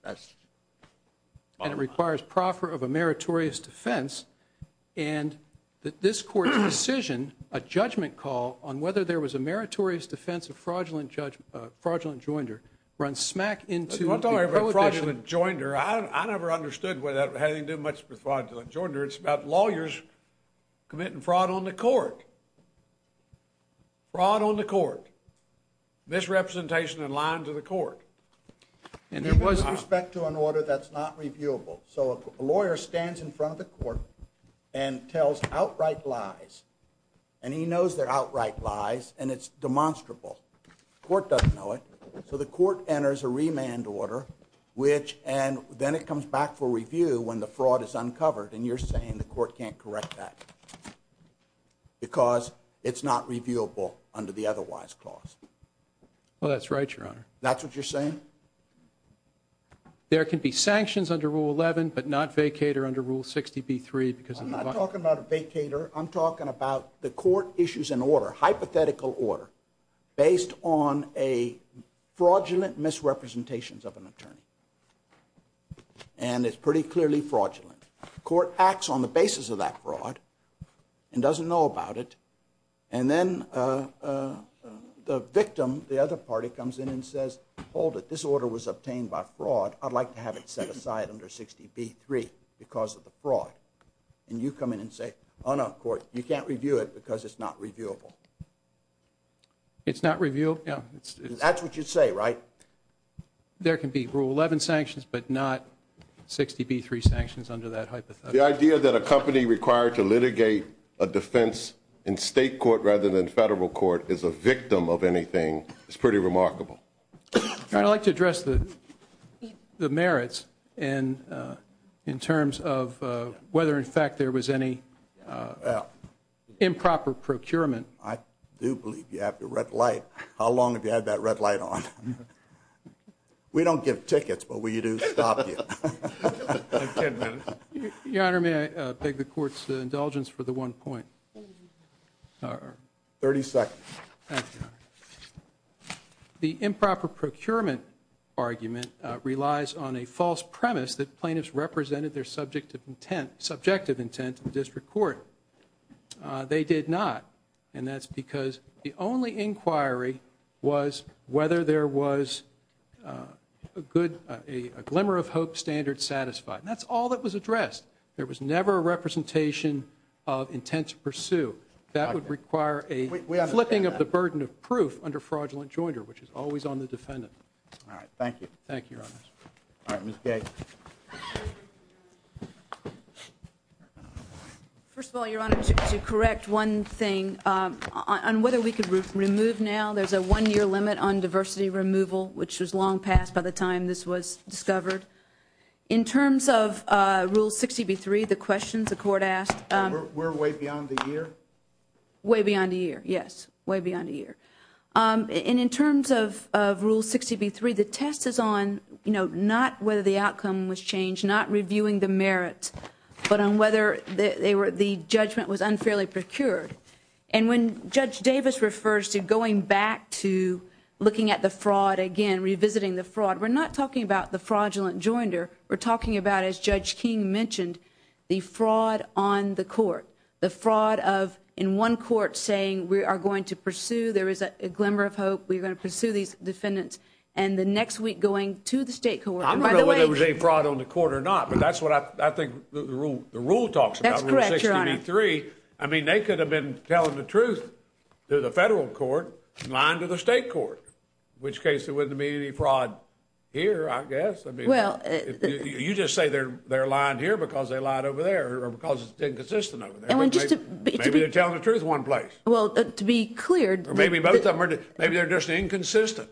And it requires proffer of a meritorious defense. And this court's decision, a judgment call on whether there was a meritorious defense of fraudulent joinder, runs smack into… I never understood what that had to do much with fraudulent joinder. It's about lawyers committing fraud on the court. Fraud on the court. Misrepresentation in lines of the court. With respect to an order that's not reviewable. So a lawyer stands in front of the court and tells outright lies. And he knows they're outright lies and it's demonstrable. The court doesn't know it. So the court enters a remand order, which… And then it comes back for review when the fraud is uncovered. And you're saying the court can't correct that because it's not reviewable under the otherwise clause. Well, that's right, Your Honor. That's what you're saying? There can be sanctions under Rule 11 but not vacater under Rule 60B3 because of… I'm not talking about a vacater. I'm talking about the court issues an order, hypothetical order, based on a fraudulent misrepresentation of an attorney. And it's pretty clearly fraudulent. The court acts on the basis of that fraud and doesn't know about it. And then the victim, the other party, comes in and says, hold it. This order was obtained by fraud. I'd like to have it set aside under 60B3 because of the fraud. And you come in and say, on our court, you can't review it because it's not reviewable. It's not reviewable? That's what you say, right? There can be Rule 11 sanctions but not 60B3 sanctions under that hypothetical. The idea that a company required to litigate a defense in state court rather than federal court is a victim of anything is pretty remarkable. I'd like to address the merits in terms of whether, in fact, there was any improper procurement. I do believe you have the red light. How long have you had that red light on? We don't give tickets, but we do stop you. In 10 minutes. Your Honor, may I beg the court's indulgence for the one point? 30 seconds. Thank you. The improper procurement argument relies on a false premise that plaintiffs represented their subjective intent to the district court. They did not. And that's because the only inquiry was whether there was a glimmer of hope standard satisfied. And that's all that was addressed. There was never a representation of intent to pursue. That would require a flipping of the burden of proof under fraudulent joinder, which is always on the defendant. Thank you, Your Honor. All right, Ms. Kay. First of all, Your Honor, to correct one thing, on whether we could remove now, there's a one-year limit on diversity removal, which was long past by the time this was discovered. In terms of Rule 60b-3, the questions the court asked... We're way beyond the year? Way beyond the year, yes. Way beyond the year. And in terms of Rule 60b-3, the test is on, you know, not whether the outcome was changed, not reviewing the merits, but on whether the judgment was unfairly procured. And when Judge Davis refers to going back to looking at the fraud again, revisiting the fraud, we're not talking about the fraudulent joinder. We're talking about, as Judge King mentioned, the fraud on the court. The fraud of, in one court, saying, we are going to pursue, there is a glimmer of hope, we're going to pursue these defendants. And the next week, going to the state court. I don't know whether there was any fraud on the court or not, but that's what I think the rule talks about, Rule 60b-3. I mean, they could have been telling the truth to the federal court, lying to the state court. In which case, there wouldn't be any fraud here, I guess. You just say they're lying here because they lied over there, or because it's inconsistent over there. Maybe they're telling the truth in one place. Well, to be clear. Maybe both of them are. Maybe they're just inconsistent.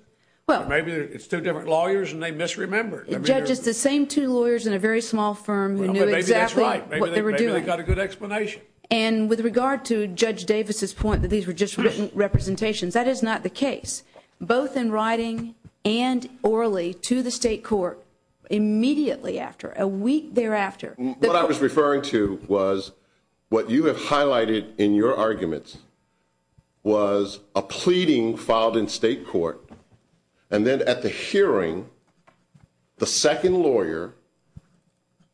Maybe it's two different lawyers and they misremembered. Judge, it's the same two lawyers in a very small firm who knew exactly what they were doing. Maybe they got a good explanation. And with regard to Judge Davis' point that these were just written representations, that is not the case. Both in writing and orally to the state court immediately after, a week thereafter. What I was referring to was what you have highlighted in your arguments was a pleading filed in state court. And then at the hearing, the second lawyer,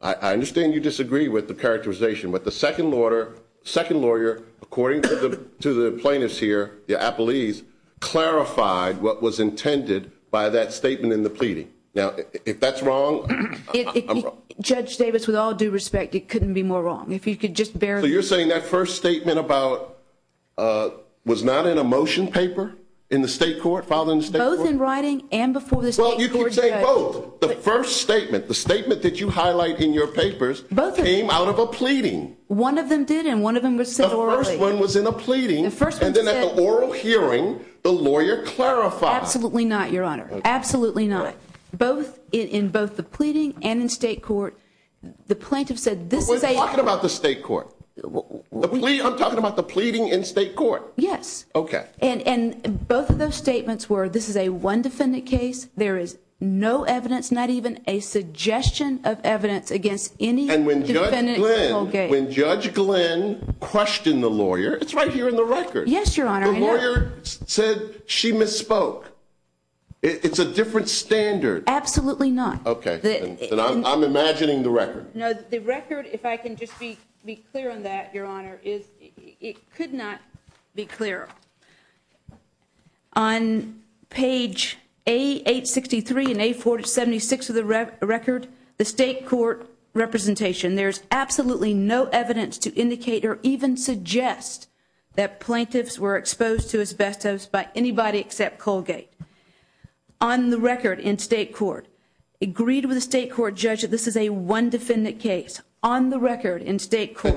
I understand you disagree with the characterization, but the second lawyer, according to the plaintiffs here, the appellees, clarified what was intended by that statement in the pleading. Now, if that's wrong, I'm wrong. Judge Davis, with all due respect, it couldn't be more wrong. If you could just bear with me. So you're saying that first statement was not in a motion paper in the state court, filed in the state court? Both in writing and before the state court. Well, you can say both. The first statement, the statement that you highlight in your papers came out of a pleading. One of them did, and one of them was said orally. The first one was in a pleading, and then at the oral hearing, the lawyer clarified. Absolutely not, Your Honor. Absolutely not. In both the pleading and in state court, the plaintiffs said this is a- We're talking about the state court. I'm talking about the pleading in state court. Yes. And both of those statements were this is a one-defendant case. There is no evidence, not even a suggestion of evidence against any defendant in the whole case. And when Judge Glenn questioned the lawyer, it's right here in the record. Yes, Your Honor. The lawyer said she misspoke. It's a different standard. Absolutely not. Okay. I'm imagining the record. No, the record, if I can just be clear on that, Your Honor, it could not be clearer. On page A863 and A476 of the record, the state court representation, there's absolutely no evidence to indicate or even suggest that plaintiffs were exposed to asbestos by anybody except Colgate. On the record in state court, agreed with the state court judge that this is a one-defendant case. On the record in state court-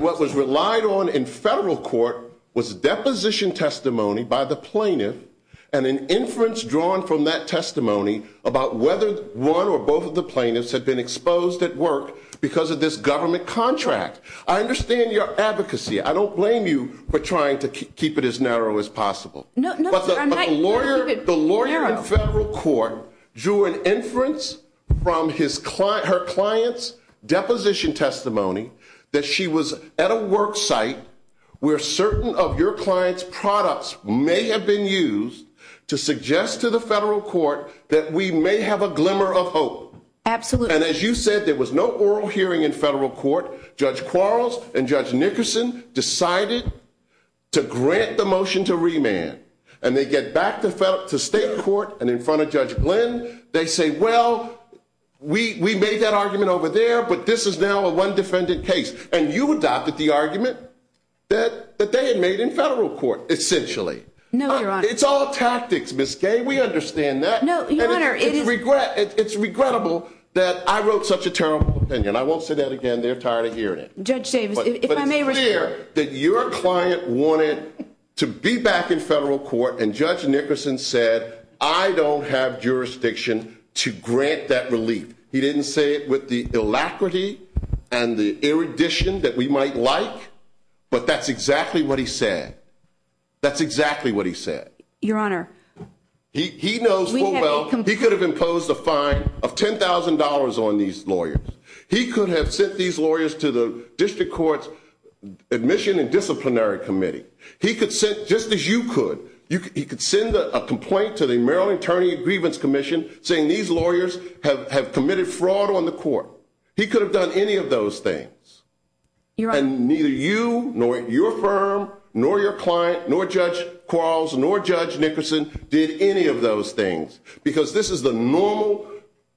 And an inference drawn from that testimony about whether one or both of the plaintiffs had been exposed at work because of this government contract. I understand your advocacy. I don't blame you for trying to keep it as narrow as possible. No, I'm not keeping it narrow. The lawyer in federal court drew an inference from her client's deposition testimony that she was at a work site where certain of your client's products may have been used to suggest to the federal court that we may have a glimmer of hope. Absolutely. And as you said, there was no oral hearing in federal court. Judge Quarles and Judge Nickerson decided to grant the motion to remand. And they get back to state court and in front of Judge Glenn, they say, well, we made that argument over there, but this is now a one-defendant case. And you adopted the argument that they had made in federal court, essentially. No, Your Honor. It's all tactics, Ms. Gay. We understand that. No, Your Honor. It's regrettable that I wrote such a terrible opinion. I won't say that again. They're tired of hearing it. Judge Davis, if I may wish to- But it's clear that your client wanted to be back in federal court, and Judge Nickerson said, I don't have jurisdiction to grant that relief. He didn't say it with the alacrity and the erudition that we might like, but that's exactly what he said. That's exactly what he said. Your Honor- He knows full well he could have imposed a fine of $10,000 on these lawyers. He could have sent these lawyers to the district court's admission and disciplinary committee. Just as you could, he could send a complaint to the Maryland Attorney's Grievance Commission saying these lawyers have committed fraud on the court. He could have done any of those things. And neither you, nor your firm, nor your client, nor Judge Quarles, nor Judge Nickerson did any of those things, because this is the normal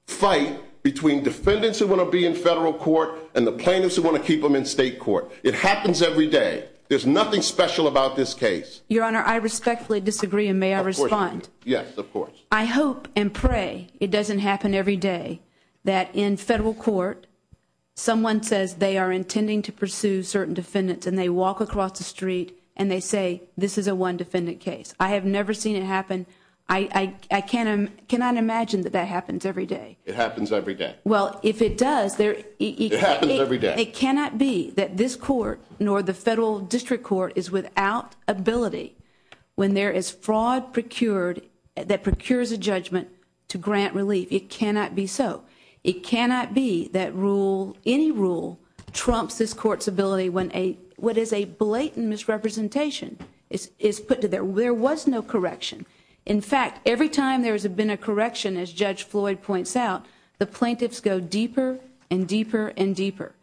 fight between defendants who want to be in federal court and the plaintiffs who want to keep them in state court. It happens every day. There's nothing special about this case. Your Honor, I respectfully disagree, and may I respond? Yes, of course. I hope and pray it doesn't happen every day that in federal court, someone says they are intending to pursue certain defendants, and they walk across the street, and they say, this is a one-defendant case. I have never seen it happen. I cannot imagine that that happens every day. It happens every day. Well, if it does- It happens every day. But it cannot be that this court, nor the federal district court, is without ability when there is fraud procured that procures a judgment to grant relief. It cannot be so. It cannot be that rule, any rule, trumps this court's ability when what is a blatant misrepresentation is put to them. There was no correction. In fact, every time there's been a correction, as Judge Floyd points out, the plaintiffs go deeper and deeper and deeper.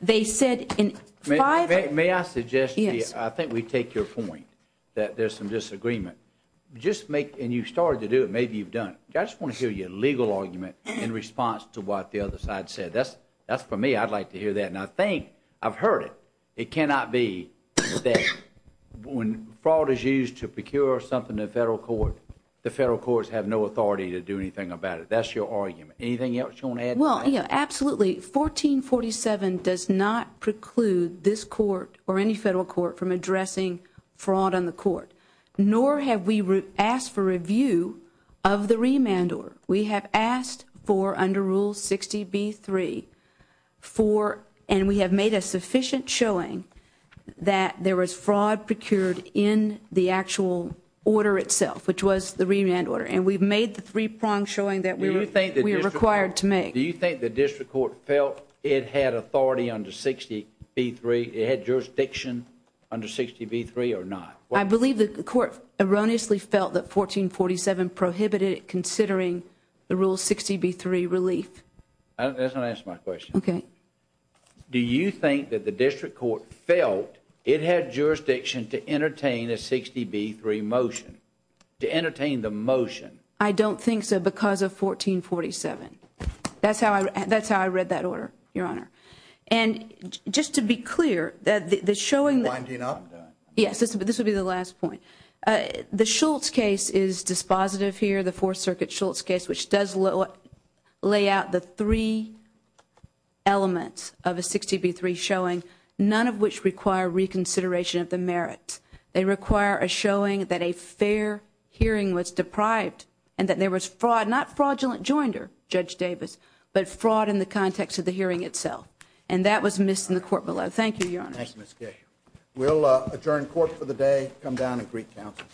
They said in five- May I suggest- Yes. I think we take your point that there's some disagreement. Just make- and you've started to do it. Maybe you've done it. I just want to hear your legal argument in response to what the other side said. That's for me. I'd like to hear that, and I think I've heard it. It cannot be that when fraud is used to procure something in the federal court, the federal courts have no authority to do anything about it. That's your argument. Anything else you want to add to that? Well, yeah, absolutely. 1447 does not preclude this court or any federal court from addressing fraud on the court. Nor have we asked for review of the remand order. We have asked for, under Rule 60b-3, for- and we have made a sufficient showing that there was fraud procured in the actual order itself, which was the remand order. And we've made the three-pronged showing that we were required to make. Do you think the district court felt it had authority under 60b-3, it had jurisdiction under 60b-3 or not? I believe that the court erroneously felt that 1447 prohibited it considering the Rule 60b-3 relief. That doesn't answer my question. Okay. Do you think that the district court felt it had jurisdiction to entertain a 60b-3 motion, to entertain the motion? I don't think so because of 1447. That's how I read that order, Your Honor. And just to be clear, the showing that- Yes, this would be the last point. The Schultz case is dispositive here, the Fourth Circuit Schultz case, which does lay out the three elements of a 60b-3 showing, none of which require reconsideration of the merits. They require a showing that a fair hearing was deprived and that there was fraud, not fraudulent joinder, Judge Davis, but fraud in the context of the hearing itself. And that was missed in the court below. Thank you, Your Honor. Thank you, Ms. Kish. We'll adjourn court for the day, come down and brief counsel.